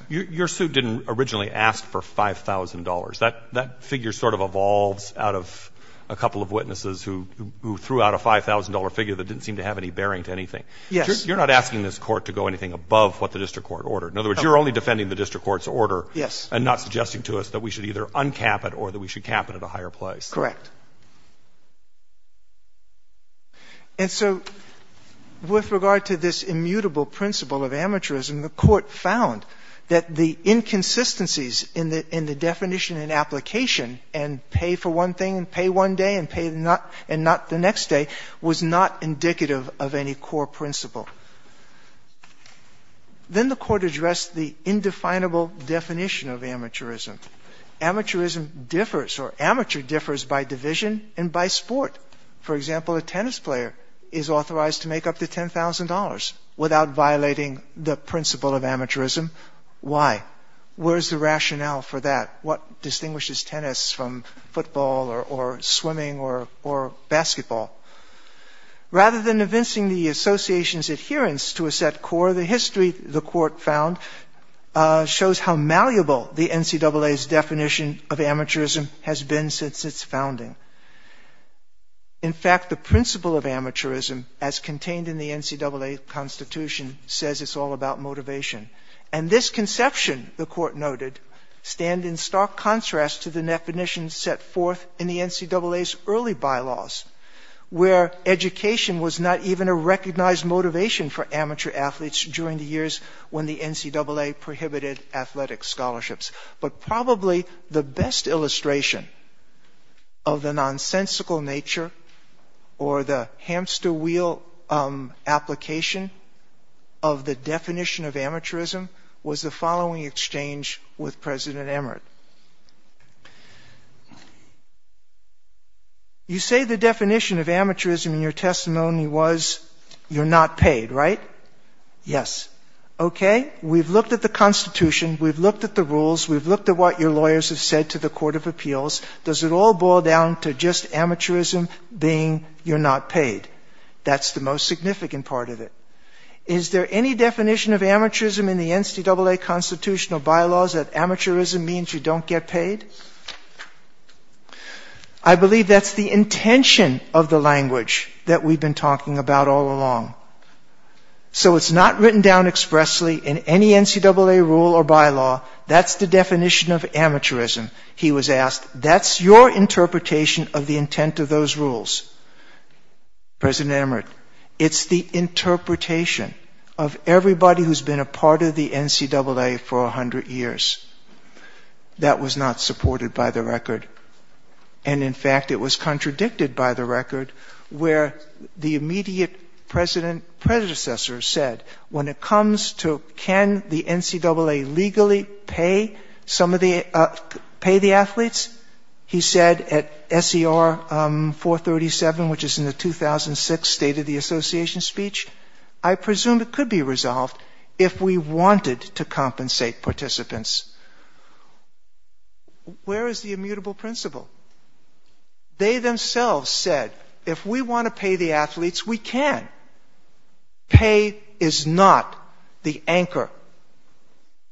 Your suit didn't originally ask for $5,000. That figure sort of evolved out of a couple of witnesses who threw out a $5,000 figure that didn't seem to have any bearing to anything. You're not asking this court to go anything above what the district court order. In other words, you're only defending the district court's order and not suggesting to us that we should either uncap it or that we should cap it at a higher place. Correct. And so with regard to this immutable principle of amateurism, the court found that the inconsistencies in the definition and application, and pay for one thing, pay one day, and not the next day, was not indicative of any core principle. Then the court addressed the indefinable definition of amateurism. Amateurism differs or amateur differs by division and by sport. For example, a tennis player is authorized to make up to $10,000 without violating the principle of amateurism. Why? Where's the rationale for that? What distinguishes tennis from football or swimming or basketball? Rather than evincing the association's adherence to a set core, the history the court found shows how malleable the NCAA's definition of amateurism has been since its founding. In fact, the principle of amateurism, as contained in the NCAA Constitution, says it's all about motivation. And this conception, the court noted, stand in stark contrast to the definition set forth in the NCAA's early bylaws, where education was not even a recognized motivation for amateur athletes during the years when the NCAA prohibited athletic scholarships. But probably the best illustration of the nonsensical nature or the hamster wheel application of the definition of amateurism was the following exchange with President Emmerich. You say the definition of amateurism in your testimony was you're not paid, right? Yes. Okay. We've looked at the Constitution. We've looked at the rules. We've looked at what your lawyers have said to the Court of Appeals. Does it all boil down to just amateurism being you're not paid? That's the most significant part of it. Is there any definition of amateurism in the NCAA Constitution or bylaws that amateurism means you don't get paid? I believe that's the intention of the language that we've been talking about all along. So it's not written down expressly in any NCAA rule or bylaw. That's the definition of amateurism, he was asked. That's your interpretation of the intent of those rules. President Emmerich, it's the interpretation of everybody who's been a part of the NCAA for 100 years. That was not supported by the record. And in fact, it was contradicted by the record, where the immediate predecessor said, when it comes to can the NCAA legally pay the athletes, he said at SER 437, which is in the 2006 State of the Association speech, I presume it could be resolved if we wanted to compensate participants. Where is the immutable principle? They themselves said, if we want to pay the athletes, we can. Pay is not the anchor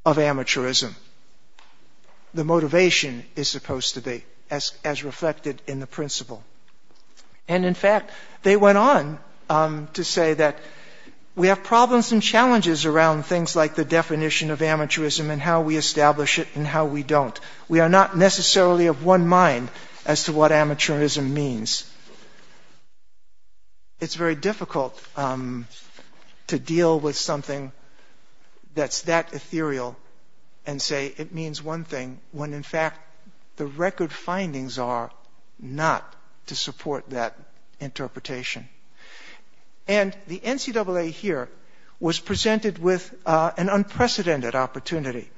of amateurism. The motivation is supposed to be as reflected in the principle. And in fact, they went on to say that we have problems and challenges around things like the how we establish it and how we don't. We are not necessarily of one mind as to what amateurism means. It's very difficult to deal with something that's that ethereal and say it means one thing, when in fact, the record findings are not to support that interpretation. And the NCAA here was presented with an unprecedented opportunity.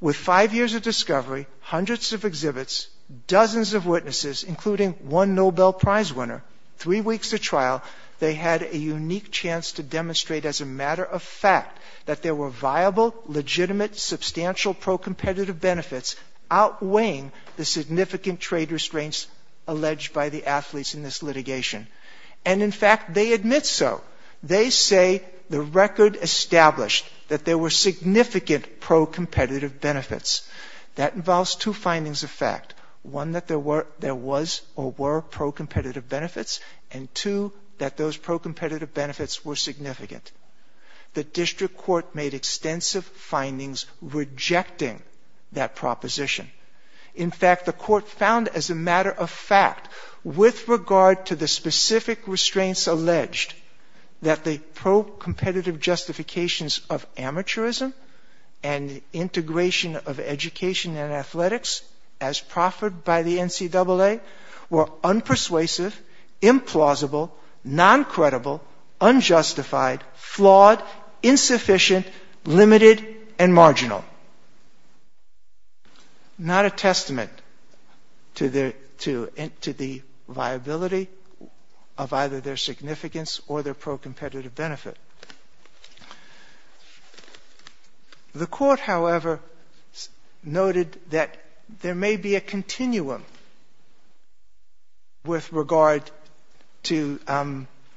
With five years of discovery, hundreds of exhibits, dozens of witnesses, including one Nobel Prize winner, three weeks of trial, they had a unique chance to demonstrate as a matter of fact that there were viable, legitimate, substantial pro-competitive benefits outweighing the significant trade restraints alleged by the athletes in this litigation. And in fact, they admit so. They say the record established that there were significant pro-competitive benefits. That involves two findings of fact. One, that there was or were pro-competitive benefits. And two, that those pro-competitive benefits were significant. The district court made extensive findings rejecting that proposition. In fact, the court found as a matter of fact, with regard to the specific restraints alleged, that the pro-competitive justifications of amateurism and integration of education and athletics, as proffered by the NCAA, were unpersuasive, implausible, non-credible, unjustified, flawed, insufficient, limited, and marginal. Not a testament to the viability of either their significance or their pro-competitive benefit. The court, however, noted that there may be a continuum with regard to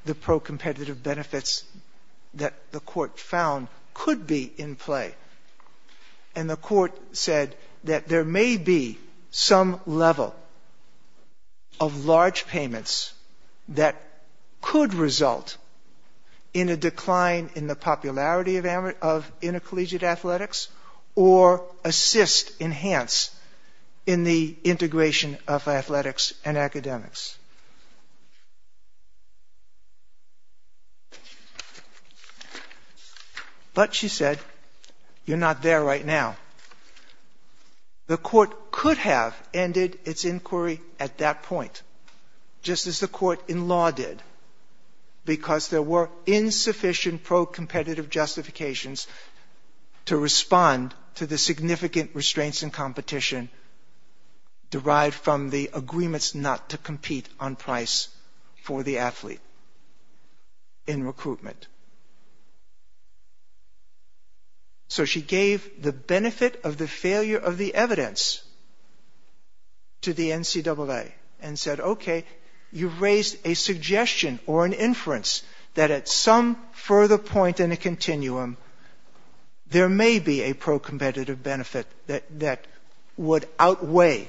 the pro-competitive benefits that the court found could be in play. And the court said that there may be some level of large payments that could result in a decline in the popularity of intercollegiate athletics or assist, enhance, in the integration of athletics and academics. But, she said, you're not there right now. The court could have ended its inquiry at that point, just as the court in law did, because there were insufficient pro-competitive justifications to respond to the significant restraints in competition derived from the agreements not to compete on price for the athlete in recruitment. So, she gave the benefit of the failure of the evidence to the NCAA and said, okay, you've raised a suggestion or an inference that at further point in the continuum, there may be a pro-competitive benefit that would outweigh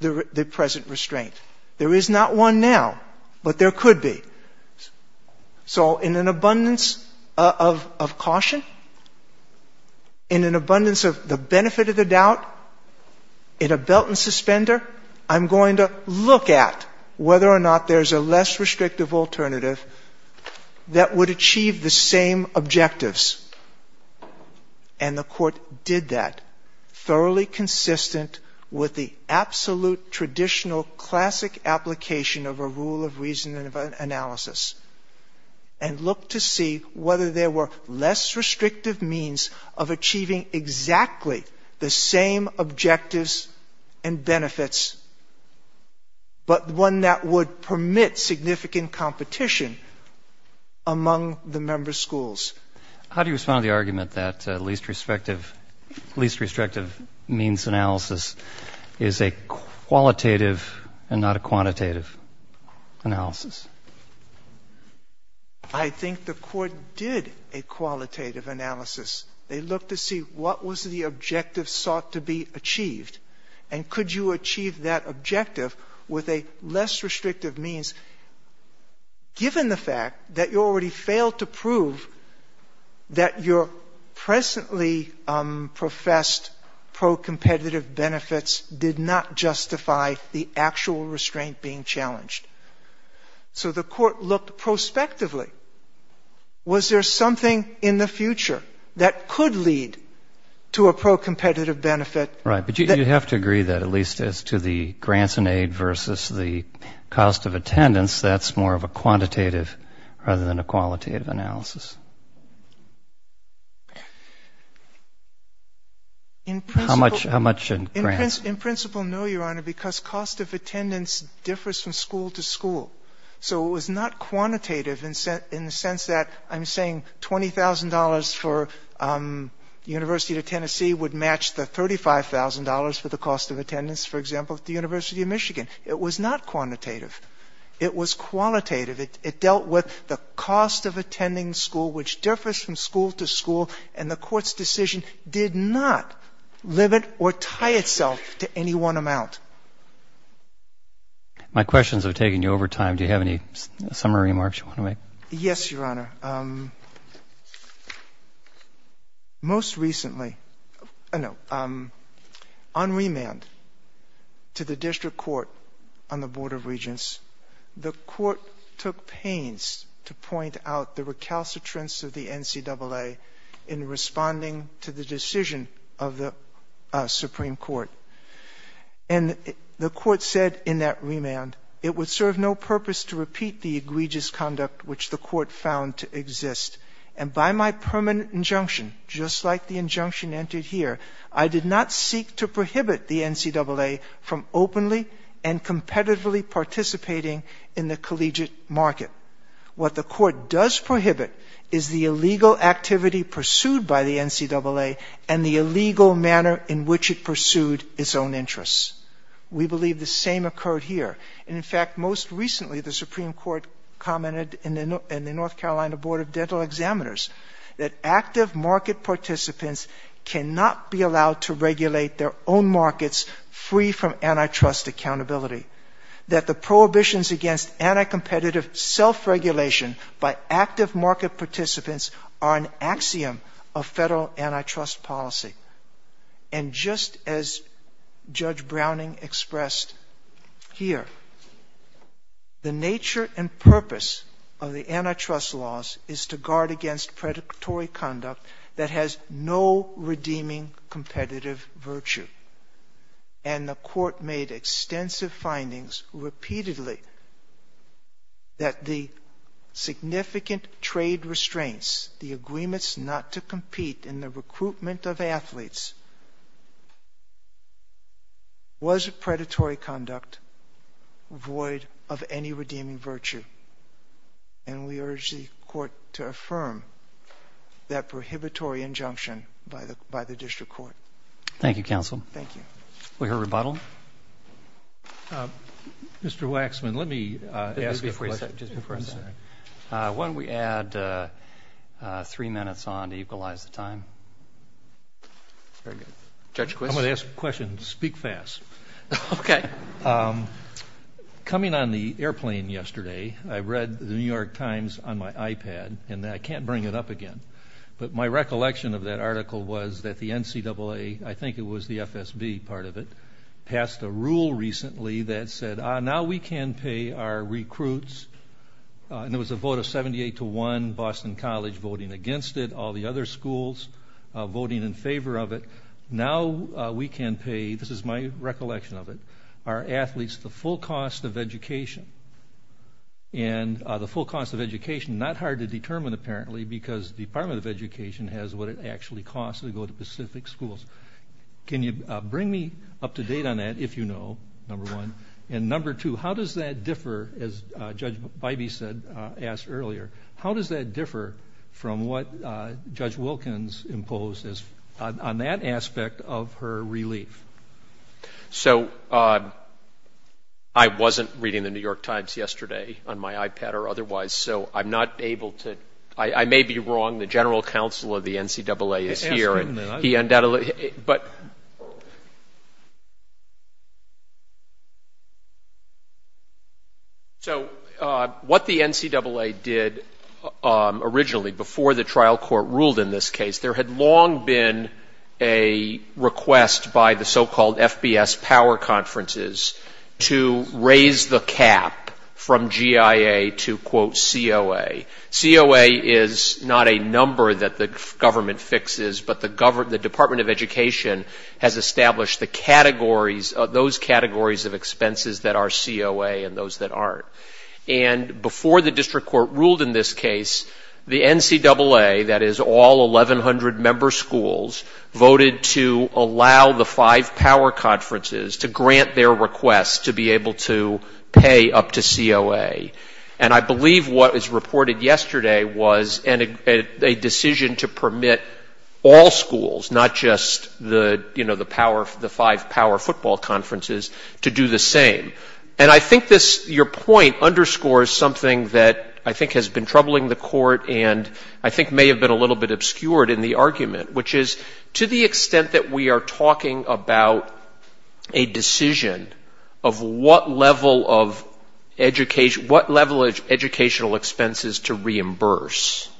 the present restraint. There is not one now, but there could be. So, in an abundance of caution, in an abundance of the benefit of the doubt, in a belt and suspender, I'm going to look at whether or not there's a less restrictive alternative that would achieve the same objectives. And the court did that, thoroughly consistent with the absolute traditional classic application of a rule of reason and analysis, and looked to see whether there were less restrictive means of achieving exactly the same objectives and benefits, but one that would permit significant competition among the member schools. How do you respond to the argument that least restrictive means analysis is a qualitative and not a quantitative analysis? I think the court did a qualitative analysis. They looked to see what was the objective sought to be achieved, and could you achieve that objective with a less restrictive means, given the fact that you already failed to prove that your presently professed pro-competitive benefits did not justify the actual restraint being challenged. So, the court looked prospectively. Was there something in the future that could lead to a pro-competitive benefit? Right. But you have to agree that at least as to the grants and aid versus the cost of attendance, that's more of a quantitative rather than a qualitative analysis. How much in grants? In principle, no, Your Honor, because cost of attendance differs from school to school. So, it's not quantitative in the sense that I'm saying $20,000 for University of Tennessee would match the $35,000 for the cost of attendance, for example, at the University of Michigan. It was not quantitative. It was qualitative. It dealt with the cost of attending school, which differs from school to school, and the court's decision did not limit or tie itself to any one amount. My questions are taking you over time. Do you have any summary remarks you want to make? Yes, Your Honor. Most recently, on remand to the district court on the Board of Regents, the court took pains to point out the recalcitrance of the NCAA in responding to the decision of the Supreme Court. And the court said in that remand, it would serve no purpose to repeat the egregious conduct which the court found to exist. And by my permanent injunction, just like the injunction entered here, I did not seek to prohibit the NCAA from openly and competitively participating in the collegiate market. What the court does prohibit is the illegal activity pursued by the its own interests. We believe the same occurred here. And in fact, most recently, the Supreme Court commented in the North Carolina Board of Dental Examiners that active market participants cannot be allowed to regulate their own markets free from antitrust accountability, that the prohibitions against anti-competitive self-regulation by active market participants are an axiom of federal antitrust policy. And just as Judge Browning expressed here, the nature and purpose of the antitrust laws is to guard against predatory conduct that has no redeeming competitive virtue. And the court made extensive findings repeatedly that the significant trade restraints, the agreements not to compete in the recruitment of athletes, was a predatory conduct void of any redeeming virtue. And we urge the court to affirm that prohibitory injunction by the district court. Thank you, counsel. Thank you. For your rebuttal. Mr. Waxman, let me ask you a question. Why don't we add three minutes on to equalize the time? Very good. I'm going to ask a question. Speak fast. Okay. Coming on the airplane yesterday, I read the New York Times on my iPad, and I can't bring it up again. But my recollection of that article was that the NCAA, I think it was the FSB part of it, passed a rule recently that said, now we can pay our recruits, and it was a vote of 78 to 1, Boston College voting against it, all the other schools voting in favor of it. Now we can pay, this is my recollection of it, our athletes the full cost of education. And the full cost of education, not hard to determine apparently, because the Department of Education has what it actually costs to go to specific schools. Can you bring me up to date on that, if you know, number one? And number two, how does that differ, as Judge Bybee said, asked earlier, how does that differ from what Judge Wilkins imposed on that aspect of her relief? So I wasn't reading the New York Times yesterday on my iPad or otherwise, so I'm not able to, I may be wrong, the general counsel of the NCAA is here. So what the NCAA did originally, before the trial court ruled in this case, there had long been a request by the so-called FBS power conferences to raise the cap from GIA to, quote, COA. COA is not a number that the government fixes, but the Department of Education has established the categories, those categories of expenses that are COA and those that aren't. And before the voted to allow the five power conferences to grant their request to be able to pay up to COA. And I believe what was reported yesterday was a decision to permit all schools, not just the, you know, the five power football conferences, to do the same. And I think this, your point underscores something that I think has been troubling the court and I think may have been a little bit obscured in the argument, which is to the extent that we are talking about a decision of what level of education, what level of educational expenses to reimburse.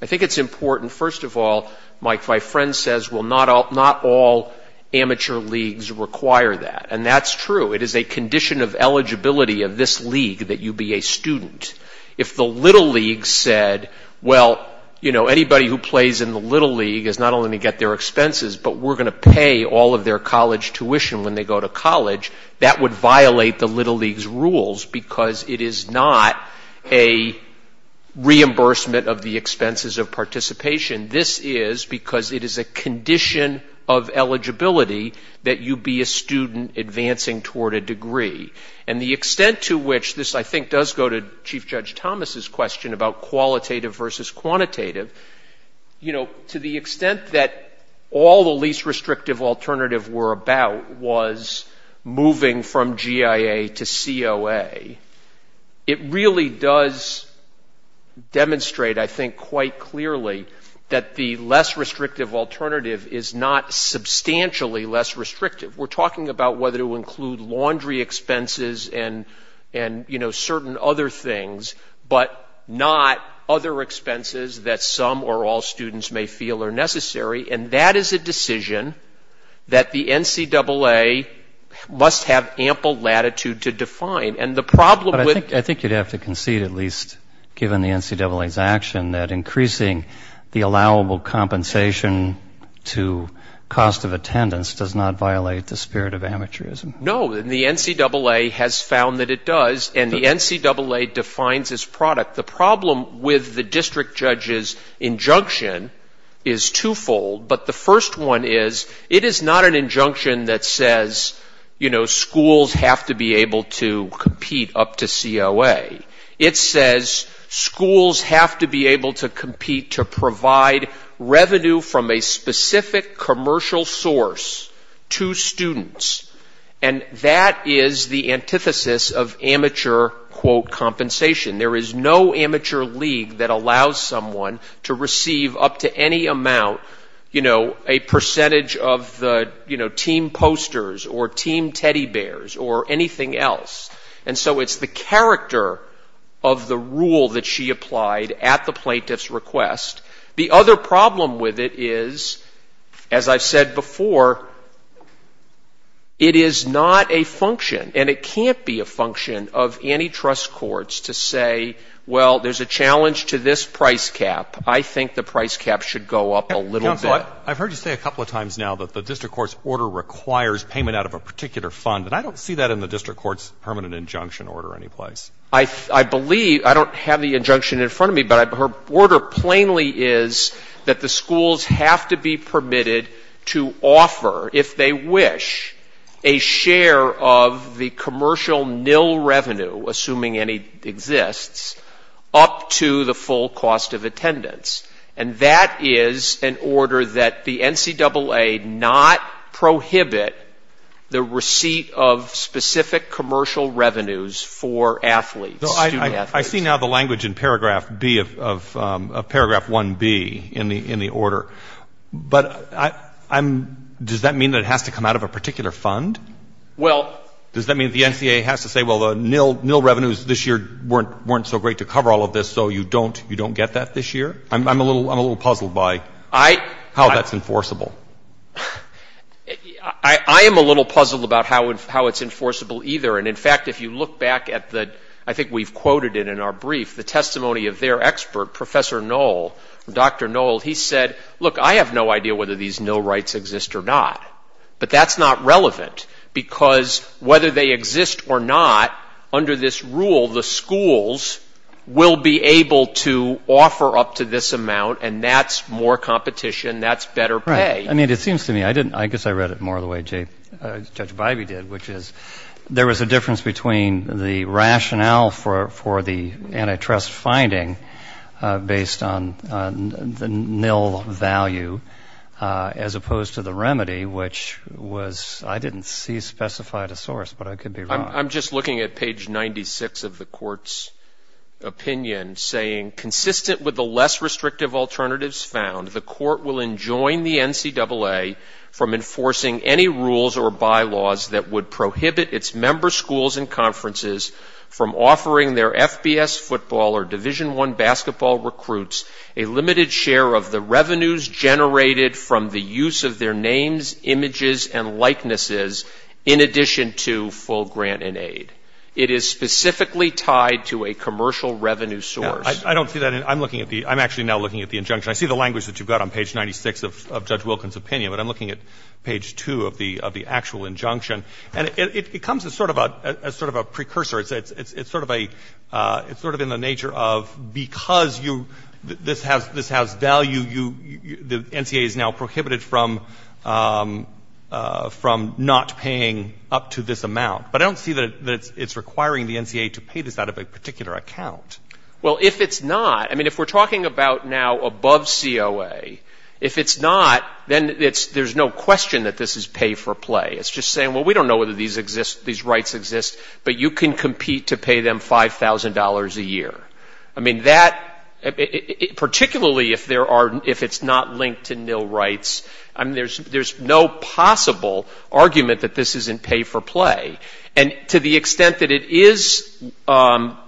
I think it's important, first of all, my friend says, well, not all amateur leagues require that. And that's true. It is a condition of eligibility of this league that you be a student. If the little league said, well, you know, anybody who plays in the little league is not only to get their expenses, but we're going to pay all of their college tuition when they go to college, that would violate the little league's rules because it is not a reimbursement of the expenses of participation. This is because it is a condition of eligibility that you be a student advancing toward a degree. And the extent to which this, I think, does go to Chief Judge Thomas's question about qualitative versus quantitative, you know, to the extent that all the least restrictive alternative were about was moving from GIA to COA. It really does demonstrate, I think, quite clearly that the less restrictive alternative is not substantially less restrictive. We're talking about whether to include laundry expenses and, you know, certain other things, but not other expenses that some or all students may feel are necessary. And that is a decision that the NCAA must have ample latitude to define. And the problem with... I think you'd have to concede, at least given the NCAA's action, that increasing the allowable compensation to cost of attendance does not violate the spirit of amateurism. No, and the NCAA has found that it does, and the NCAA defines this product. The problem with the district judge's injunction is twofold, but the first one is it is not an injunction that says, you know, schools have to be able to compete up to COA. It says schools have to be able to compete to provide revenue from a specific commercial source to students, and that is the antithesis of amateur, quote, compensation. There is no amateur league that allows someone to receive up to any amount, you know, a percentage of the, you know, team posters or team teddy bears or else. And so it's the character of the rule that she applied at the plaintiff's request. The other problem with it is, as I've said before, it is not a function, and it can't be a function of antitrust courts to say, well, there's a challenge to this price cap. I think the price cap should go up a little bit. I've heard you say a couple of times now that the district court's requires payment out of a particular fund, and I don't see that in the district court's permanent injunction order any place. I believe, I don't have the injunction in front of me, but her order plainly is that the schools have to be permitted to offer, if they wish, a share of the commercial nil revenue, assuming any exists, up to the full cost of attendance. And that is an order that the NCAA not prohibit the receipt of specific commercial revenues for athletes. I see now the language in paragraph B of paragraph 1B in the order, but does that mean that it has to come out of a particular fund? Well, does that mean the NCAA has to say, well, the nil revenues this year weren't so great to cover all of this, so you don't get that this year? I'm a little puzzled by how that's enforceable. I am a little puzzled about how it's enforceable either. And in fact, if you look back at the, I think we've quoted it in our brief, the testimony of their expert, Professor Noll, Dr. Noll, he said, look, I have no idea whether these nil rights exist or not, but that's not relevant because whether they exist or not, under this rule, the schools will be able to offer up to this amount and that's more competition, that's better pay. I mean, it seems to me, I didn't, I guess I read it more the way Judge Bivey did, which is there was a difference between the rationale for the antitrust finding based on the nil value as opposed to the remedy, which was, I didn't see specified a source, but I could be wrong. I'm just looking at page 96 of the court's opinion saying, consistent with the less restrictive alternatives found, the court will enjoin the NCAA from enforcing any rules or bylaws that would prohibit its member schools and conferences from offering their FBS football or Division I basketball recruits a limited share of the revenues generated from the use of their images and likenesses in addition to full grant and aid. It is specifically tied to a commercial revenue source. I don't see that. I'm looking at the, I'm actually now looking at the injunction. I see the language that you've got on page 96 of Judge Wilkins' opinion, but I'm looking at page two of the, of the actual injunction and it becomes a sort of a, a sort of a precursor. It's, it's, it's sort of a, it's sort of in the nature of, because you, this has, this has value, the NCAA is now prohibited from, from not paying up to this amount, but I don't see that it's requiring the NCAA to pay this out of a particular account. Well, if it's not, I mean, if we're talking about now above COA, if it's not, then it's, there's no question that this is pay for play. It's just saying, well, we don't know whether these exist, these rights exist, but you can compete to pay them $5,000 a year. I mean, that, particularly if there are, if it's not linked to nil rights, I mean, there's, there's no possible argument that this isn't pay for play. And to the extent that it is at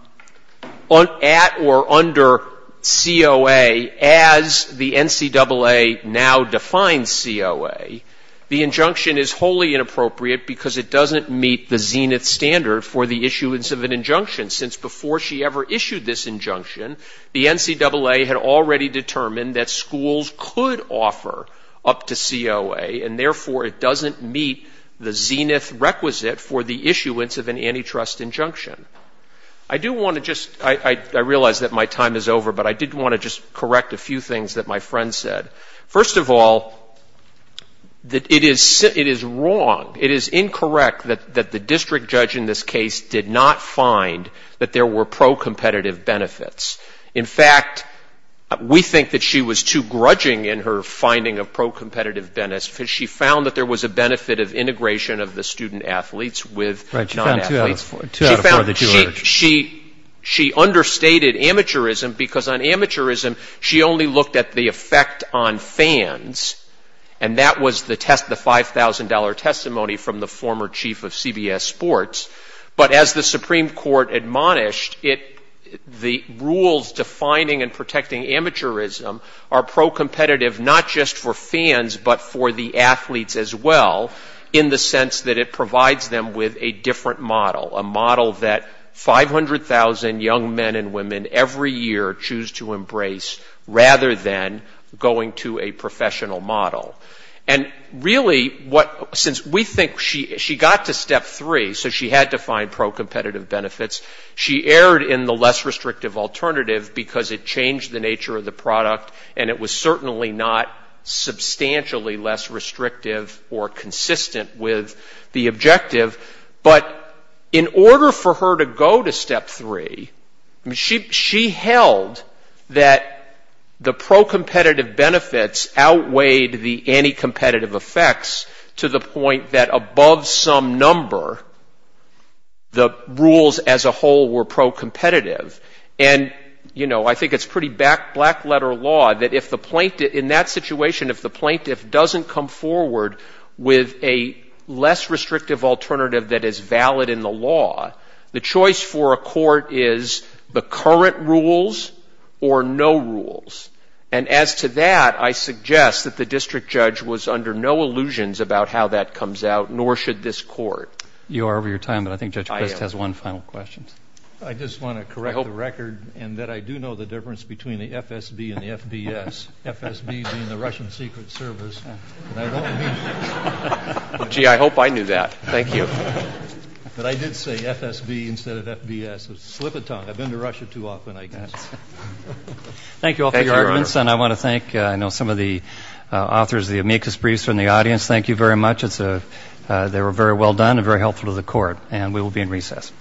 or under COA as the NCAA now defines COA, the injunction is wholly inappropriate because it doesn't meet the Zenith standard for the issuance of an injunction, since before she ever issued this injunction, the NCAA had already determined that schools could offer up to COA, and therefore it doesn't meet the Zenith requisite for the issuance of an antitrust injunction. I do want to just, I, I realize that my time is over, but I did want to just correct a few things that my friend said. First of all, that it is, it is wrong, it is incorrect that the district judge in this case did not find that there were pro-competitive benefits. In fact, we think that she was too grudging in her finding of pro-competitive benefits because she found that there was a benefit of integration of the student athletes with non-athletes. She found, she, she understated amateurism because on amateurism, she only looked at the effect on fans, and that was the test, the $5,000 testimony from the former chief of CBS Sports. But as the Supreme Court admonished, it, the rules defining and protecting amateurism are pro-competitive not just for fans, but for the athletes as well, in the sense that it provides them with a different model, a model that 500,000 young men and women every year choose to embrace rather than going to a professional model. And really what, since we think she, she got to step three, so she had to find pro-competitive benefits. She erred in the less restrictive alternative because it changed the nature of the product, and it was certainly not substantially less restrictive or consistent with the objective. But in order for her to go to step three, she, she held that the pro-competitive benefits outweighed the anti-competitive effects to the point that above some number, the rules as a whole were pro-competitive. And, you know, I think it's pretty back, letter law that if the plaintiff, in that situation, if the plaintiff doesn't come forward with a less restrictive alternative that is valid in the law, the choice for a court is the current rules or no rules. And as to that, I suggest that the district judge was under no illusions about how that comes out, nor should this court. You are over your time, but I think Judge Crest has one final question. I just want to correct the record in that I do know the difference between the FSB and the FBS. FSB being the Russian Secret Service. Gee, I hope I knew that. Thank you. But I did say FSB instead of FBS. It's a slip of tongue. I've been to Russia too often, I guess. Thank you all for your evidence, and I want to thank, I know, some of the authors of the amicus briefs from the audience. Thank you very much. It's a, they were very well done and very helpful to the court, and we will be in recess.